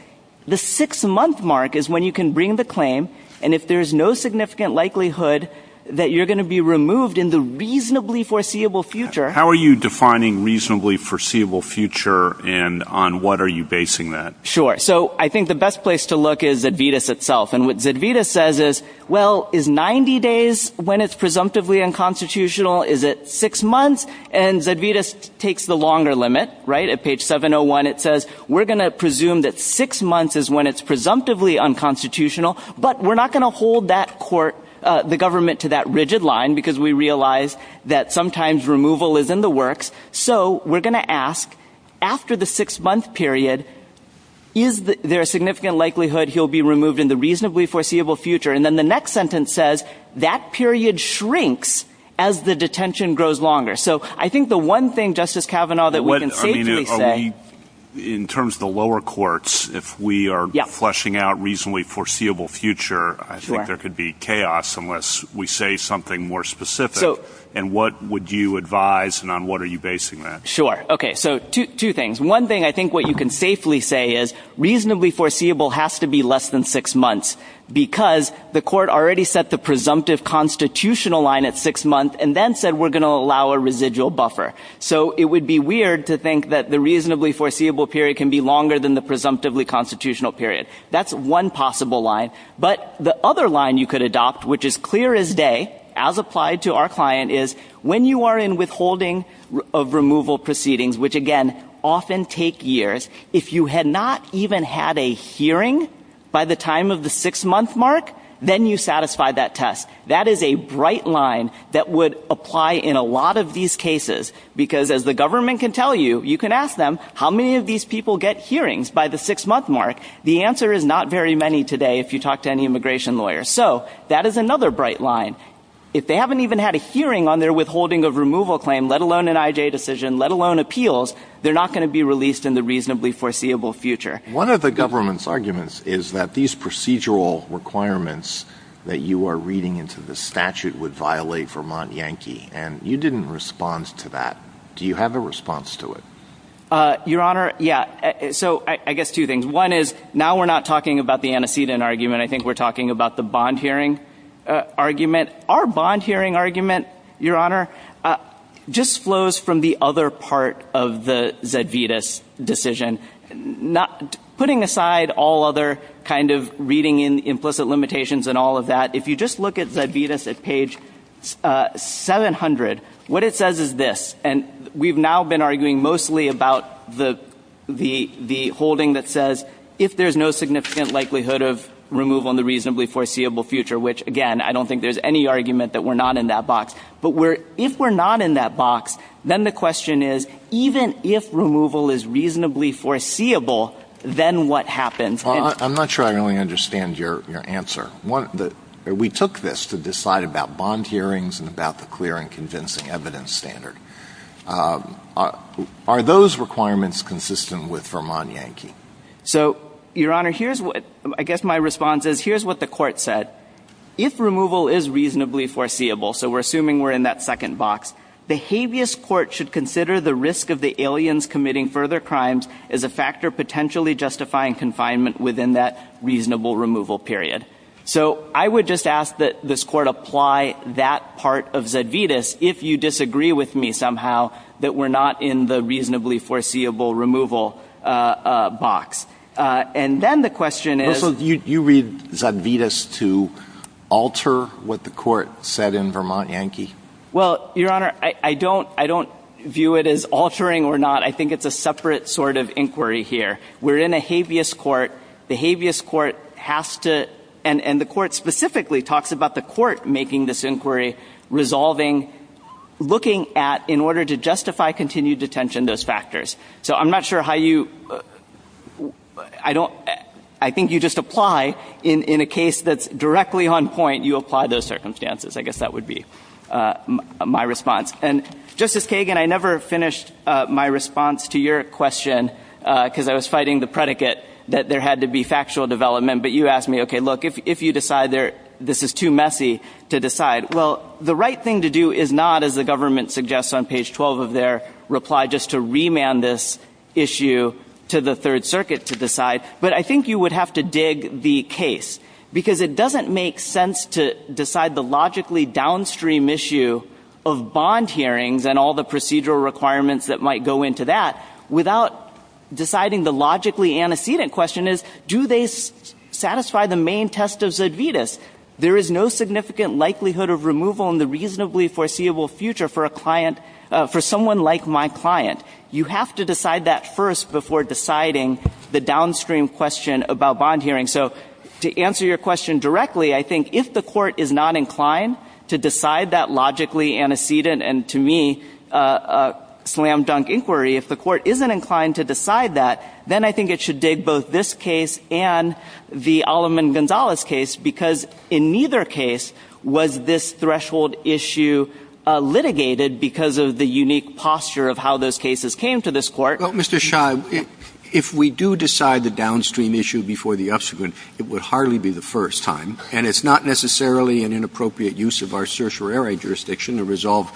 the six-month mark is when you can bring the claim, and if there's no significant likelihood that you're going to be removed in the reasonably foreseeable future – How are you defining reasonably foreseeable future, and on what are you basing that? Sure. So I think the best place to look is Zedvitas itself. And what Zedvitas says is, well, is 90 days when it's presumptively unconstitutional? Is it six months? And Zedvitas takes the longer limit, right? At page 701 it says, we're going to presume that six months is when it's presumptively unconstitutional, but we're not going to hold that court – the government to that rigid line, because we realize that sometimes removal isn't in the works. So we're going to ask, after the six-month period, is there a significant likelihood he'll be removed in the reasonably foreseeable future? And then the next sentence says, that period shrinks as the detention grows longer. So I think the one thing, Justice Kavanaugh, that we can safely say – In terms of the lower courts, if we are fleshing out reasonably foreseeable future, I think there could be chaos unless we say something more specific. And what would you advise, and on what are you basing that? Sure. Okay. So two things. One thing I think what you can safely say is, reasonably foreseeable has to be less than six months, because the court already set the presumptive constitutional line at six months, and then said we're going to allow a residual buffer. So it would be weird to think that the reasonably foreseeable period can be longer than the presumptively constitutional period. That's one possible line. But the other line you could adopt, which is clear as day, as applied to our client, is when you are in withholding of removal proceedings, which, again, often take years, if you had not even had a hearing by the time of the six-month mark, then you satisfied that test. That is a bright line that would apply in a lot of these cases, because as the government can tell you, you can ask them, how many of these people get hearings by the six-month mark? The answer is not very many today, if you talk to any immigration lawyer. So that is another bright line. If they haven't even had a hearing on their withholding of removal claim, let alone an IJ decision, let alone appeals, they're not going to be released in the reasonably foreseeable future. One of the government's arguments is that these procedural requirements that you are reading into the statute would violate Vermont Yankee. And you didn't respond to that. Do you have a response to it? Your Honor, yeah. So I guess two things. One is, now we're not talking about the antecedent argument. I think we're talking about the bond hearing argument. Our bond hearing argument, Your Honor, just flows from the other part of the Zedvitas decision. Putting aside all other kind of reading in implicit limitations and all of that, if you just look at Zedvitas at page 700, what it says is this. And we've now been arguing mostly about the holding that says, if there's no significant likelihood of removal in the reasonably foreseeable future, which, again, I don't think there's any argument that we're not in that box. But if we're not in that box, then the question is, even if removal is reasonably foreseeable, then what happens? Well, I'm not sure I really understand your answer. We took this to decide about bond hearings and about the clear and convincing evidence standard. Are those requirements consistent with Vermont Yankee? So, Your Honor, here's what I guess my response is. Here's what the Court said. If removal is reasonably foreseeable, so we're assuming we're in that second box, the habeas court should consider the risk of the aliens committing further crimes as a factor potentially justifying confinement within that reasonable removal period. So I would just ask that this Court apply that part of Zedvitas if you disagree with me somehow that we're not in the reasonably foreseeable removal box. And then the question is — So you read Zedvitas to alter what the Court said in Vermont Yankee? Well, Your Honor, I don't view it as altering or not. I think it's a separate sort of inquiry here. We're in a habeas court. The habeas court has to — and the Court specifically talks about the Court making this inquiry, resolving, looking at, in order to justify continued detention, those factors. So I'm not sure how you — I don't — I think you just apply in a case that's directly on point, you apply those circumstances. I guess that would be my response. And, Justice Kagan, I never finished my response to your question because I was fighting the predicate that there had to be factual development. But you asked me, okay, look, if you decide this is too messy to decide, well, the right thing to do is not, as the government suggests on page 12 of their reply, just to remand this issue to the Third Circuit to decide. But I think you would have to dig the case because it doesn't make sense to decide the logically downstream issue of bond hearings and all the procedural requirements that might go into that without deciding the logically antecedent question is, do they satisfy the main test of Zedvitas? There is no significant likelihood of removal in the reasonably foreseeable future for a client — for someone like my client. You have to decide that first before deciding the downstream question about bond hearings. So to answer your question directly, I think if the Court is not inclined to decide that logically antecedent and, to me, slam-dunk inquiry, if the Court isn't inclined to decide that, then I think it should dig both this case and the Alleman-Gonzalez case, because in neither case was this threshold issue litigated because of the unique posture of how those cases came to this Court. Roberts. Well, Mr. Shah, if we do decide the downstream issue before the subsequent, it would hardly be the first time, and it's not necessarily an inappropriate use of our certiorari jurisdiction to resolve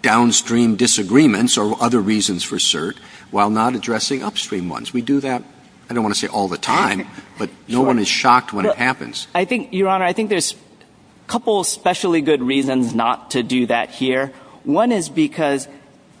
downstream disagreements or other reasons for cert while not addressing upstream ones. We do that, I don't want to say all the time, but no one is shocked when it happens. I think, Your Honor, I think there's a couple especially good reasons not to do that here. One is because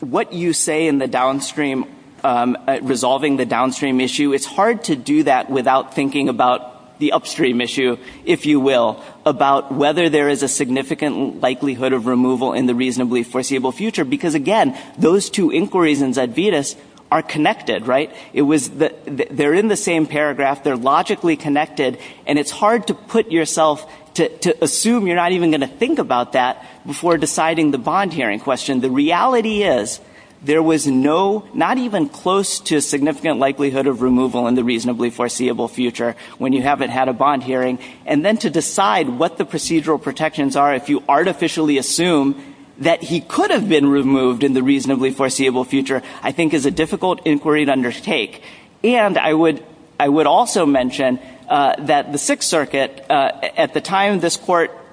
what you say in the downstream — resolving the downstream issue, it's hard to do that without thinking about the upstream issue, if you will, about whether there is a significant likelihood of removal in the reasonably foreseeable future. Because, again, those two inquiries in Zedvitas are connected, right? It was — they're in the same paragraph, they're logically connected, and it's hard to put yourself — to assume you're not even going to think about that before deciding the bond hearing question. The reality is there was no — not even close to a significant likelihood of removal in the reasonably foreseeable future when you haven't had a bond hearing. And then to decide what the procedural protections are, if you artificially assume that he could have been removed in the reasonably foreseeable future, I think is a difficult inquiry to undertake. And I would — I would also mention that the Sixth Circuit, at the time this court —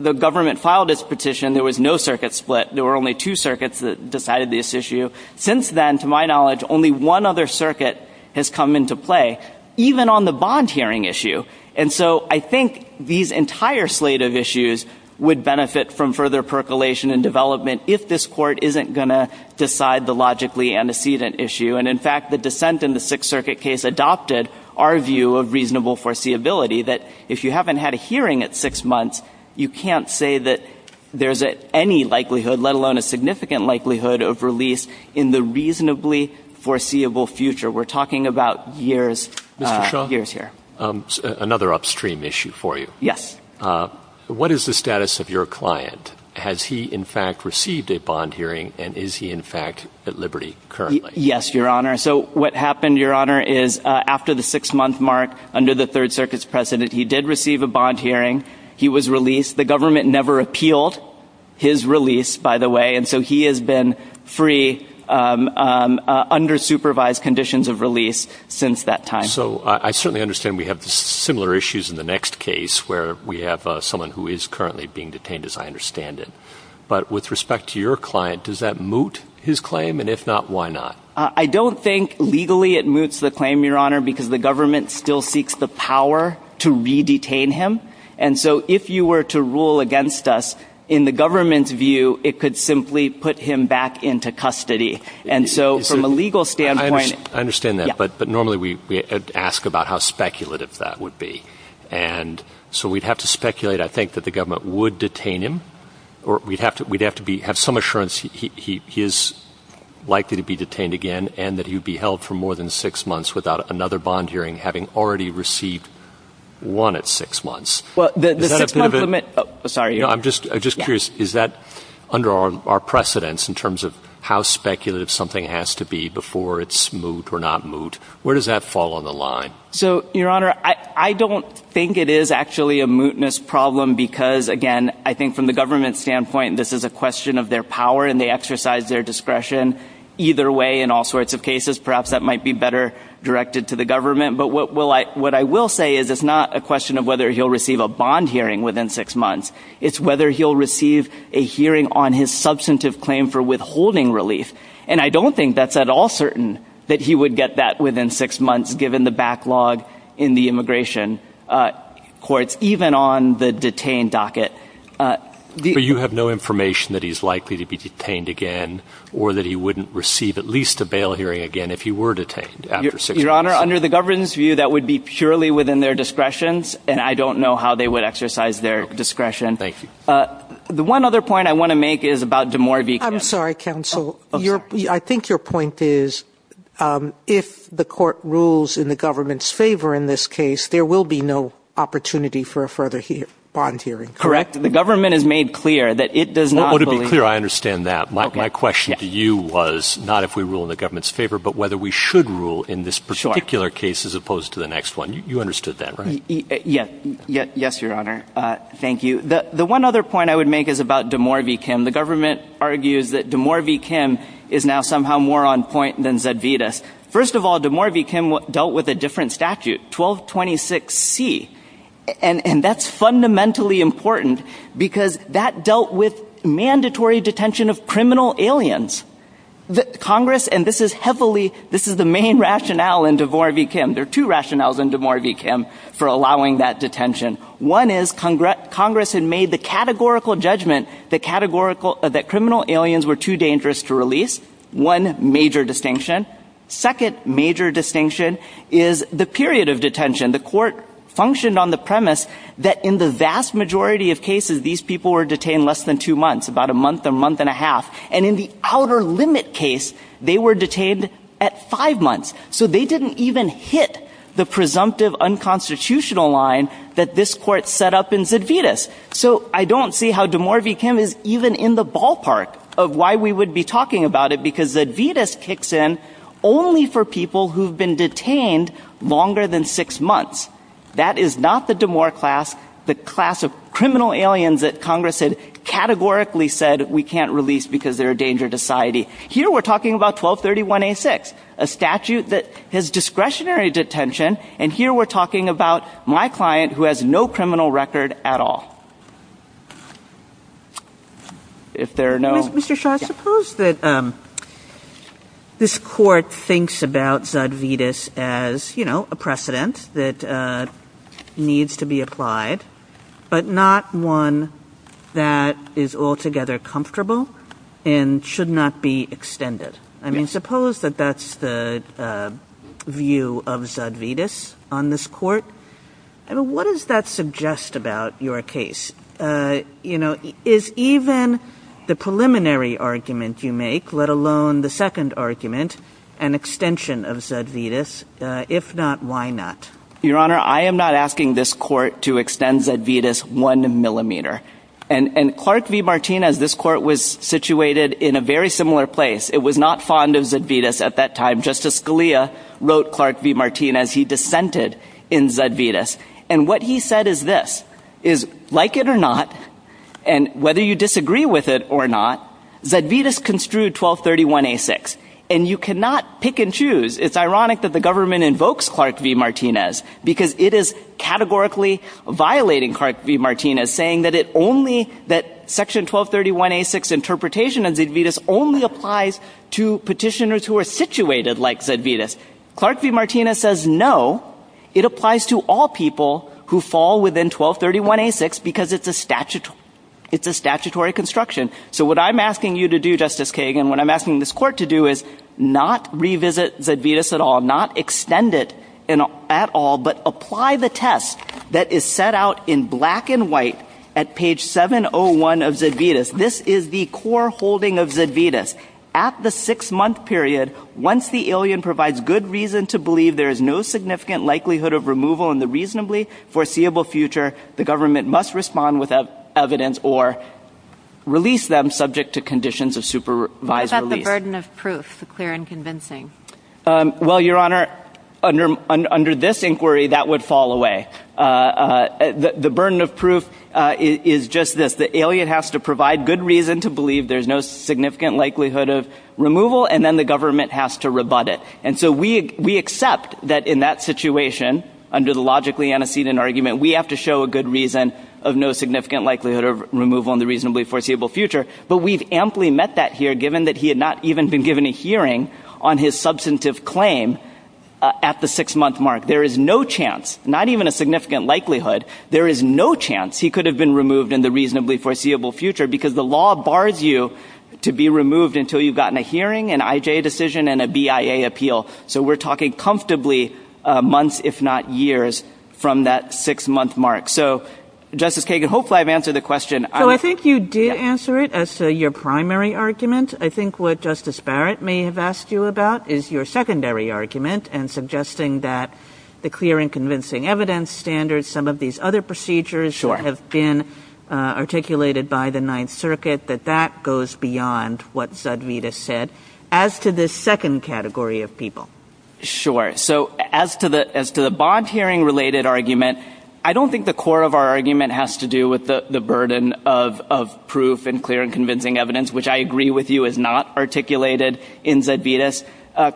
the government filed its petition, there was no circuit split. There were only two circuits that decided this issue. Since then, to my knowledge, only one other circuit has come into play, even on the bond hearing issue. And so I think these entire slate of issues would benefit from further percolation and development if this court isn't going to decide the logically antecedent issue. And, in fact, the dissent in the Sixth Circuit case adopted our view of reasonable foreseeability, that if you haven't had a hearing at six months, you can't say that there's any likelihood, let alone a significant likelihood, of release in the reasonably foreseeable future. We're talking about years — Mr. Shaw. — years here. Another upstream issue for you. Yes. What is the status of your client? Has he, in fact, received a bond hearing, and is he, in fact, at liberty currently? Yes, Your Honor. So what happened, Your Honor, is after the six-month mark under the Third Circuit's precedent, he did receive a bond hearing. He was released. The government never appealed his release, by the way, and so he has been free under supervised conditions of release since that time. So I certainly understand we have similar issues in the next case where we have someone who is currently being detained, as I understand it. But with respect to your client, does that moot his claim? And if not, why not? I don't think legally it moots the claim, Your Honor, because the government still seeks the power to re-detain him. And so if you were to rule against us, in the government's view, it could simply put him back into custody. And so from a legal standpoint — I understand that. But normally we ask about how speculative that would be. And so we would have to speculate, I think, that the government would detain him, or we would have to have some assurance he is likely to be detained again and that he would be held for more than six months without another bond hearing having already received one at six months. Well, the six-month limit — Is that a bit of a — Sorry, Your Honor. No, I'm just curious. Is that under our precedence in terms of how speculative something has to be for it's moot or not moot? Where does that fall on the line? So, Your Honor, I don't think it is actually a mootness problem because, again, I think from the government's standpoint, this is a question of their power and they exercise their discretion. Either way, in all sorts of cases, perhaps that might be better directed to the government. But what I will say is it's not a question of whether he'll receive a bond hearing within six months. It's whether he'll receive a hearing on his substantive claim for withholding relief. And I don't think that's at all certain that he would get that within six months given the backlog in the immigration courts, even on the detained docket. But you have no information that he's likely to be detained again or that he wouldn't receive at least a bail hearing again if he were detained after six months? Your Honor, under the government's view, that would be purely within their discretions, and I don't know how they would exercise their discretion. Thank you. The one other point I want to make is about DeMaury v. Campbell. I'm sorry, counsel. I think your point is if the court rules in the government's favor in this case, there will be no opportunity for a further bond hearing, correct? Correct. The government has made clear that it does not believe... Well, to be clear, I understand that. My question to you was not if we rule in the government's favor, but whether we should rule in this particular case as opposed to the next one. You understood that, right? Yes, Your Honor. Thank you. The one other point I would make is about DeMaury v. Kim. One of the issues that DeMaury v. Kim is now somehow more on point than Zedvitas. First of all, DeMaury v. Kim dealt with a different statute, 1226C. And that's fundamentally important because that dealt with mandatory detention of criminal aliens. Congress, and this is heavily... This is the main rationale in DeMaury v. Kim. There are two rationales in DeMaury v. Kim for allowing that detention. One is Congress had made the categorical judgment that criminal aliens were too dangerous to release. One major distinction. Second major distinction is the period of detention. The court functioned on the premise that in the vast majority of cases, these people were detained less than two months, about a month, a month and a half. And in the outer limit case, they were detained at five months. So they didn't even hit the presumptive unconstitutional line that this court set up in Zedvitas. So I don't see how DeMaury v. Kim is even in the ballpark of why we would be talking about it because Zedvitas kicks in only for people who have been detained longer than six months. That is not the DeMaury class, the class of criminal aliens that Congress had categorically said we can't release because they're a danger to society. Here we're talking about 1231A6, a statute that has discretionary detention, and here we're talking about my client who has no criminal record at all. If there are no... Mr. Shaw, I suppose that this court thinks about Zedvitas as, you know, a precedent that needs to be applied, but not one that is altogether comfortable and should not be extended. I mean, suppose that that's the view of Zedvitas on this court. What does that suggest about your case? You know, is even the preliminary argument you make, let alone the second argument, an extension of Zedvitas? If not, why not? Your Honor, I am not asking this court to extend Zedvitas one millimeter. And Clark v. Martinez, this court was situated in a very similar place. It was not fond of Zedvitas at that time. Justice Scalia wrote Clark v. Martinez. He dissented in Zedvitas. And what he said is this, is like it or not, and whether you disagree with it or not, Zedvitas construed 1231A6. And you cannot pick and choose. It's ironic that the government invokes Clark v. Martinez because it is categorically violating Clark v. Martinez, saying that it only... that Section 1231A6 interpretation of Zedvitas only applies to people who did like Zedvitas. Clark v. Martinez says no, it applies to all people who fall within 1231A6 because it's a statutory construction. So what I'm asking you to do, Justice Kagan, what I'm asking this court to do is not revisit Zedvitas at all, not extend it at all, but apply the test that is set out in black and white at page 701 of Zedvitas. This is the core holding of Zedvitas. At the six-month period, once the alien provides good reason to believe there is no significant likelihood of removal in the reasonably foreseeable future, the government must respond with evidence or release them subject to conditions of supervised release. What about the burden of proof, the clear and convincing? Well, Your Honor, under this inquiry, that would fall away. The burden of proof is just this, the alien has to provide good reason to believe there is no significant likelihood of removal and then the government has to rebut it. And so we accept that in that situation, under the logically antecedent argument, we have to show a good reason of no significant likelihood of removal in the reasonably foreseeable future. But we've amply met that here, given that he had not even been given a hearing on his substantive claim at the six-month mark. There is no chance, not even a significant likelihood, there is no chance he could have been removed in the reasonably foreseeable future because the law bars you to be removed until you've gotten a hearing, an IJ decision, and a BIA appeal. So we're talking comfortably months, if not years, from that six-month mark. So, Justice Kagan, hopefully I've answered the question. So I think you did answer it as to your primary argument. I think what Justice Barrett may have asked you about is your secondary argument and suggesting that the clear and convincing evidence standards, some of these other procedures that have been articulated by the Ninth Circuit, that that goes beyond what Zedvitas said. As to the second category of people. Sure. So as to the bond hearing-related argument, I don't think the core of our argument has to do with the burden of proof and clear and convincing evidence, which I agree with you is not articulated in Zedvitas.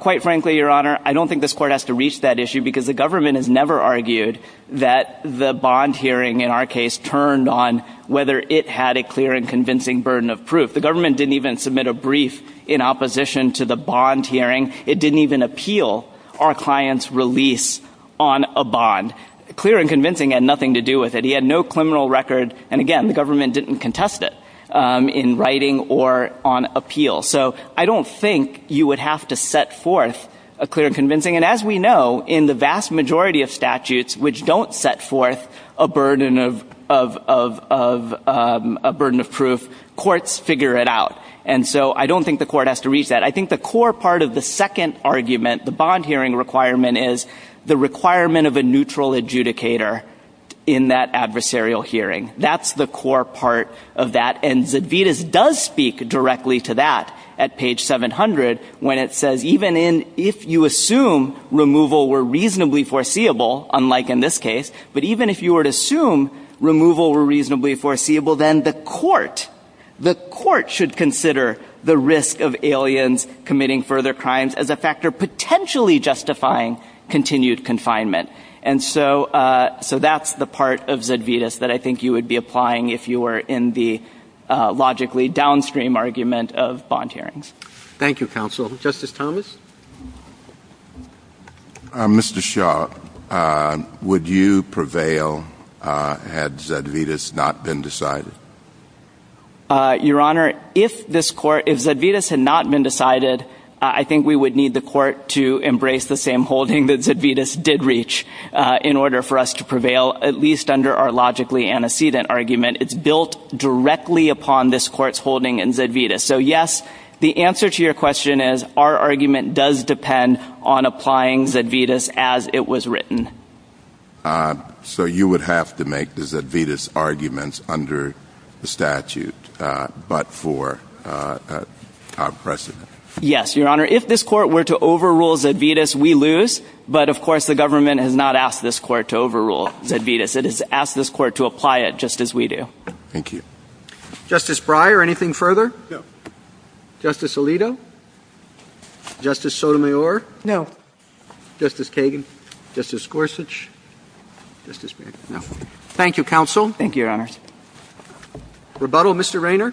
Quite frankly, Your Honor, I don't think this Court has to reach that issue because the government has never argued that the bond hearing, in our case, turned on whether it had a clear and convincing burden of proof. The government didn't even submit a brief in opposition to the bond hearing. It didn't even appeal our client's release on a bond. Clear and convincing had nothing to do with it. He had no criminal record, and again, the government didn't contest it in writing or on appeal. And as we know, in the vast majority of statutes which don't set forth a burden of proof, courts figure it out. And so I don't think the Court has to reach that. I think the core part of the second argument, the bond hearing requirement, is the requirement of a neutral adjudicator in that adversarial hearing. That's the core part of that. And Zedvitas does speak directly to that at page 700 when it says, even if you assume removal were reasonably foreseeable, unlike in this case, but even if you were to assume removal were reasonably foreseeable, then the Court should consider the risk of aliens committing further crimes as a factor potentially justifying continued confinement. And so that's the part of Zedvitas that I think you would be applying if you were in the logically downstream argument of bond hearings. Thank you, Counsel. Justice Thomas. Mr. Shaw, would you prevail had Zedvitas not been decided? Your Honor, if this Court – if Zedvitas had not been decided, I think we would need the Court to embrace the same holding that Zedvitas did reach in order for us to prevail, at least under our logically antecedent argument. It's built directly upon this Court's holding in Zedvitas. So, yes, the answer to your question is, our argument does depend on applying Zedvitas as it was written. So you would have to make the Zedvitas arguments under the statute but for our precedent? Yes, Your Honor. If this Court were to overrule Zedvitas, we lose. But, of course, the government has not asked this Court to overrule Zedvitas. It has asked this Court to apply it just as we do. Thank you. Justice Breyer, anything further? No. Justice Alito? Justice Sotomayor? No. Justice Kagan? Justice Gorsuch? Justice Breyer? No. Thank you, Counsel. Thank you, Your Honors. Rebuttal, Mr. Rayner?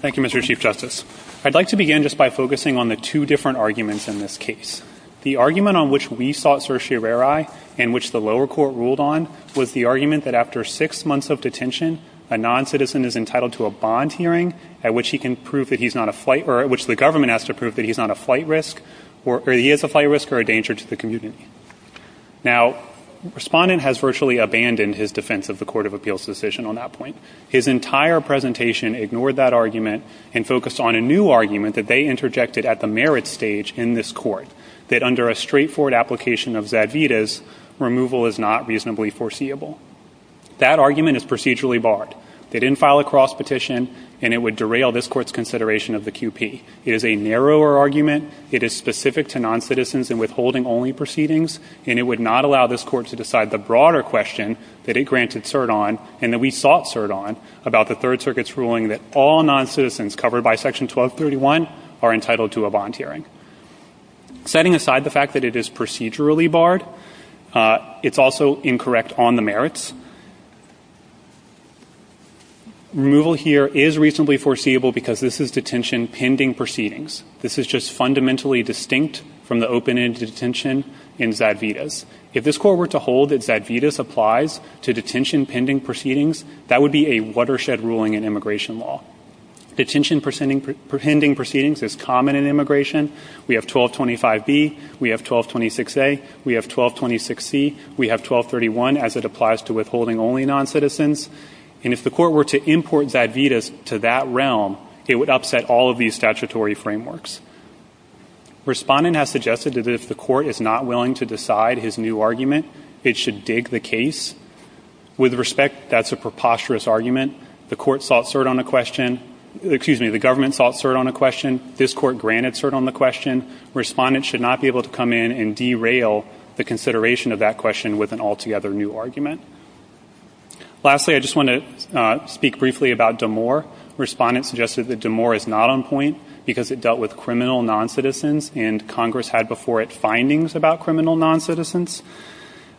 Thank you, Mr. Chief Justice. I'd like to begin just by focusing on the two different arguments in this case. The argument on which we sought certiorari and which the lower court ruled on was the argument that after six months of detention, a noncitizen is entitled to a bond hearing at which he can prove that he's not a flight or at which the government has to prove that he's not a flight risk or he is a flight risk or a danger to the community. Now, the respondent has virtually abandoned his defense of the Court of Appeals decision on that point. His entire presentation ignored that argument and focused on a new argument that they interjected at the merit stage in this Court, that under a straightforward application of Zedvitas, removal is not reasonably foreseeable. That argument is procedurally barred. They didn't file a cross petition, and it would derail this Court's consideration of the QP. It is a narrower argument. It is specific to noncitizens and withholding only proceedings, and it would not allow this Court to decide the broader question that it granted cert on and that we sought cert on about the Third Circuit's ruling that all noncitizens covered by Section 1231 are entitled to a bond hearing. Setting aside the fact that it is procedurally barred, it's also incorrect on the merits. Removal here is reasonably foreseeable because this is detention pending proceedings. This is just fundamentally distinct from the open-ended detention in Zedvitas. If this Court were to hold that Zedvitas applies to detention pending proceedings, that would be a watershed ruling in immigration law. Detention pending proceedings is common in immigration. We have 1225B. We have 1226A. We have 1226C. We have 1231 as it applies to withholding only noncitizens. And if the Court were to import Zedvitas to that realm, it would upset all of these statutory frameworks. Respondent has suggested that if the Court is not willing to decide his new argument, it should dig the case. With respect, that's a preposterous argument. The Court sought cert on a question. Excuse me, the government sought cert on a question. This Court granted cert on the question. Respondent should not be able to come in and derail the consideration of that question with an altogether new argument. Lastly, I just want to speak briefly about Damor. Respondent suggested that Damor is not on point because it dealt with criminal noncitizens and Congress had before it findings about criminal noncitizens.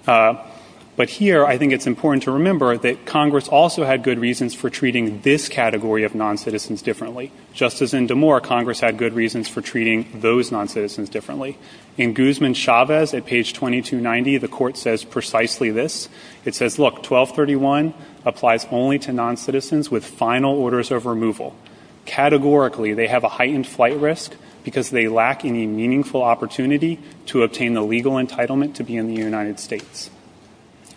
But here, I think it's important to remember that Congress also had good reasons for treating this category of noncitizens differently. Just as in Damor, Congress had good reasons for treating those noncitizens differently. In Guzman-Chavez at page 2290, the Court says precisely this. It says, look, 1231 applies only to noncitizens with final orders of removal. Categorically, they have a heightened flight risk because they lack any meaningful opportunity to obtain the legal entitlement to be in the United States.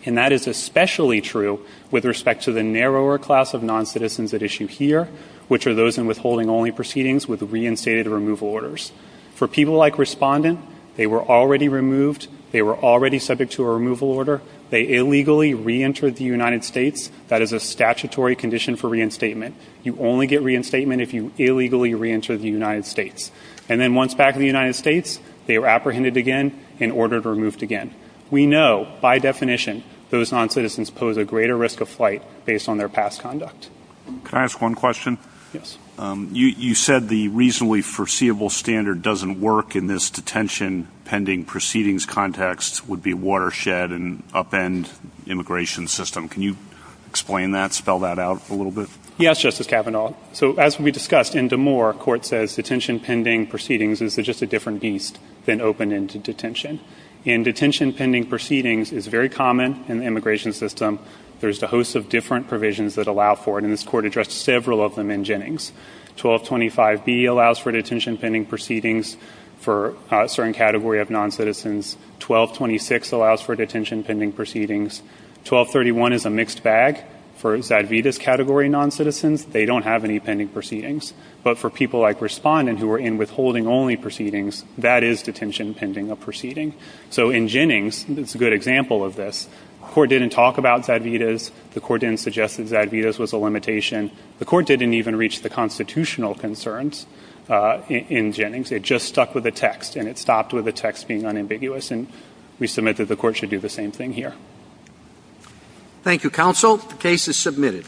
And that is especially true with respect to the narrower class of noncitizens at issue here, which are those in withholding only proceedings with reinstated removal orders. For people like Respondent, they were already removed. They were already subject to a removal order. They illegally reentered the United States. That is a statutory condition for reinstatement. You only get reinstatement if you illegally reenter the United States. And then once back in the United States, they were apprehended again and ordered removed again. We know by definition those noncitizens pose a greater risk of flight based on their past conduct. Can I ask one question? Yes. You said the reasonably foreseeable standard doesn't work in this detention pending proceedings context would be watershed and upend immigration system. Can you explain that, spell that out a little bit? Yes, Justice Kavanaugh. So as we discussed, in Damore, court says detention pending proceedings is just a different beast than open ended detention. And detention pending proceedings is very common in the immigration system. There's a host of different provisions that allow for it. And this court addressed several of them in Jennings. 1225B allows for detention pending proceedings for a certain category of noncitizens. 1226 allows for detention pending proceedings. 1231 is a mixed bag for Zadvida's category noncitizens. They don't have any pending proceedings. But for people like respondent who are in withholding only proceedings, that is detention pending a proceeding. So in Jennings, it's a good example of this. The court didn't talk about Zadvida's. The court didn't suggest that Zadvida's was a limitation. The court didn't even reach the constitutional concerns in Jennings. It just stuck with the text and it stopped with the text being unambiguous. And we submit that the court should do the same thing here. Thank you, counsel. The case is submitted.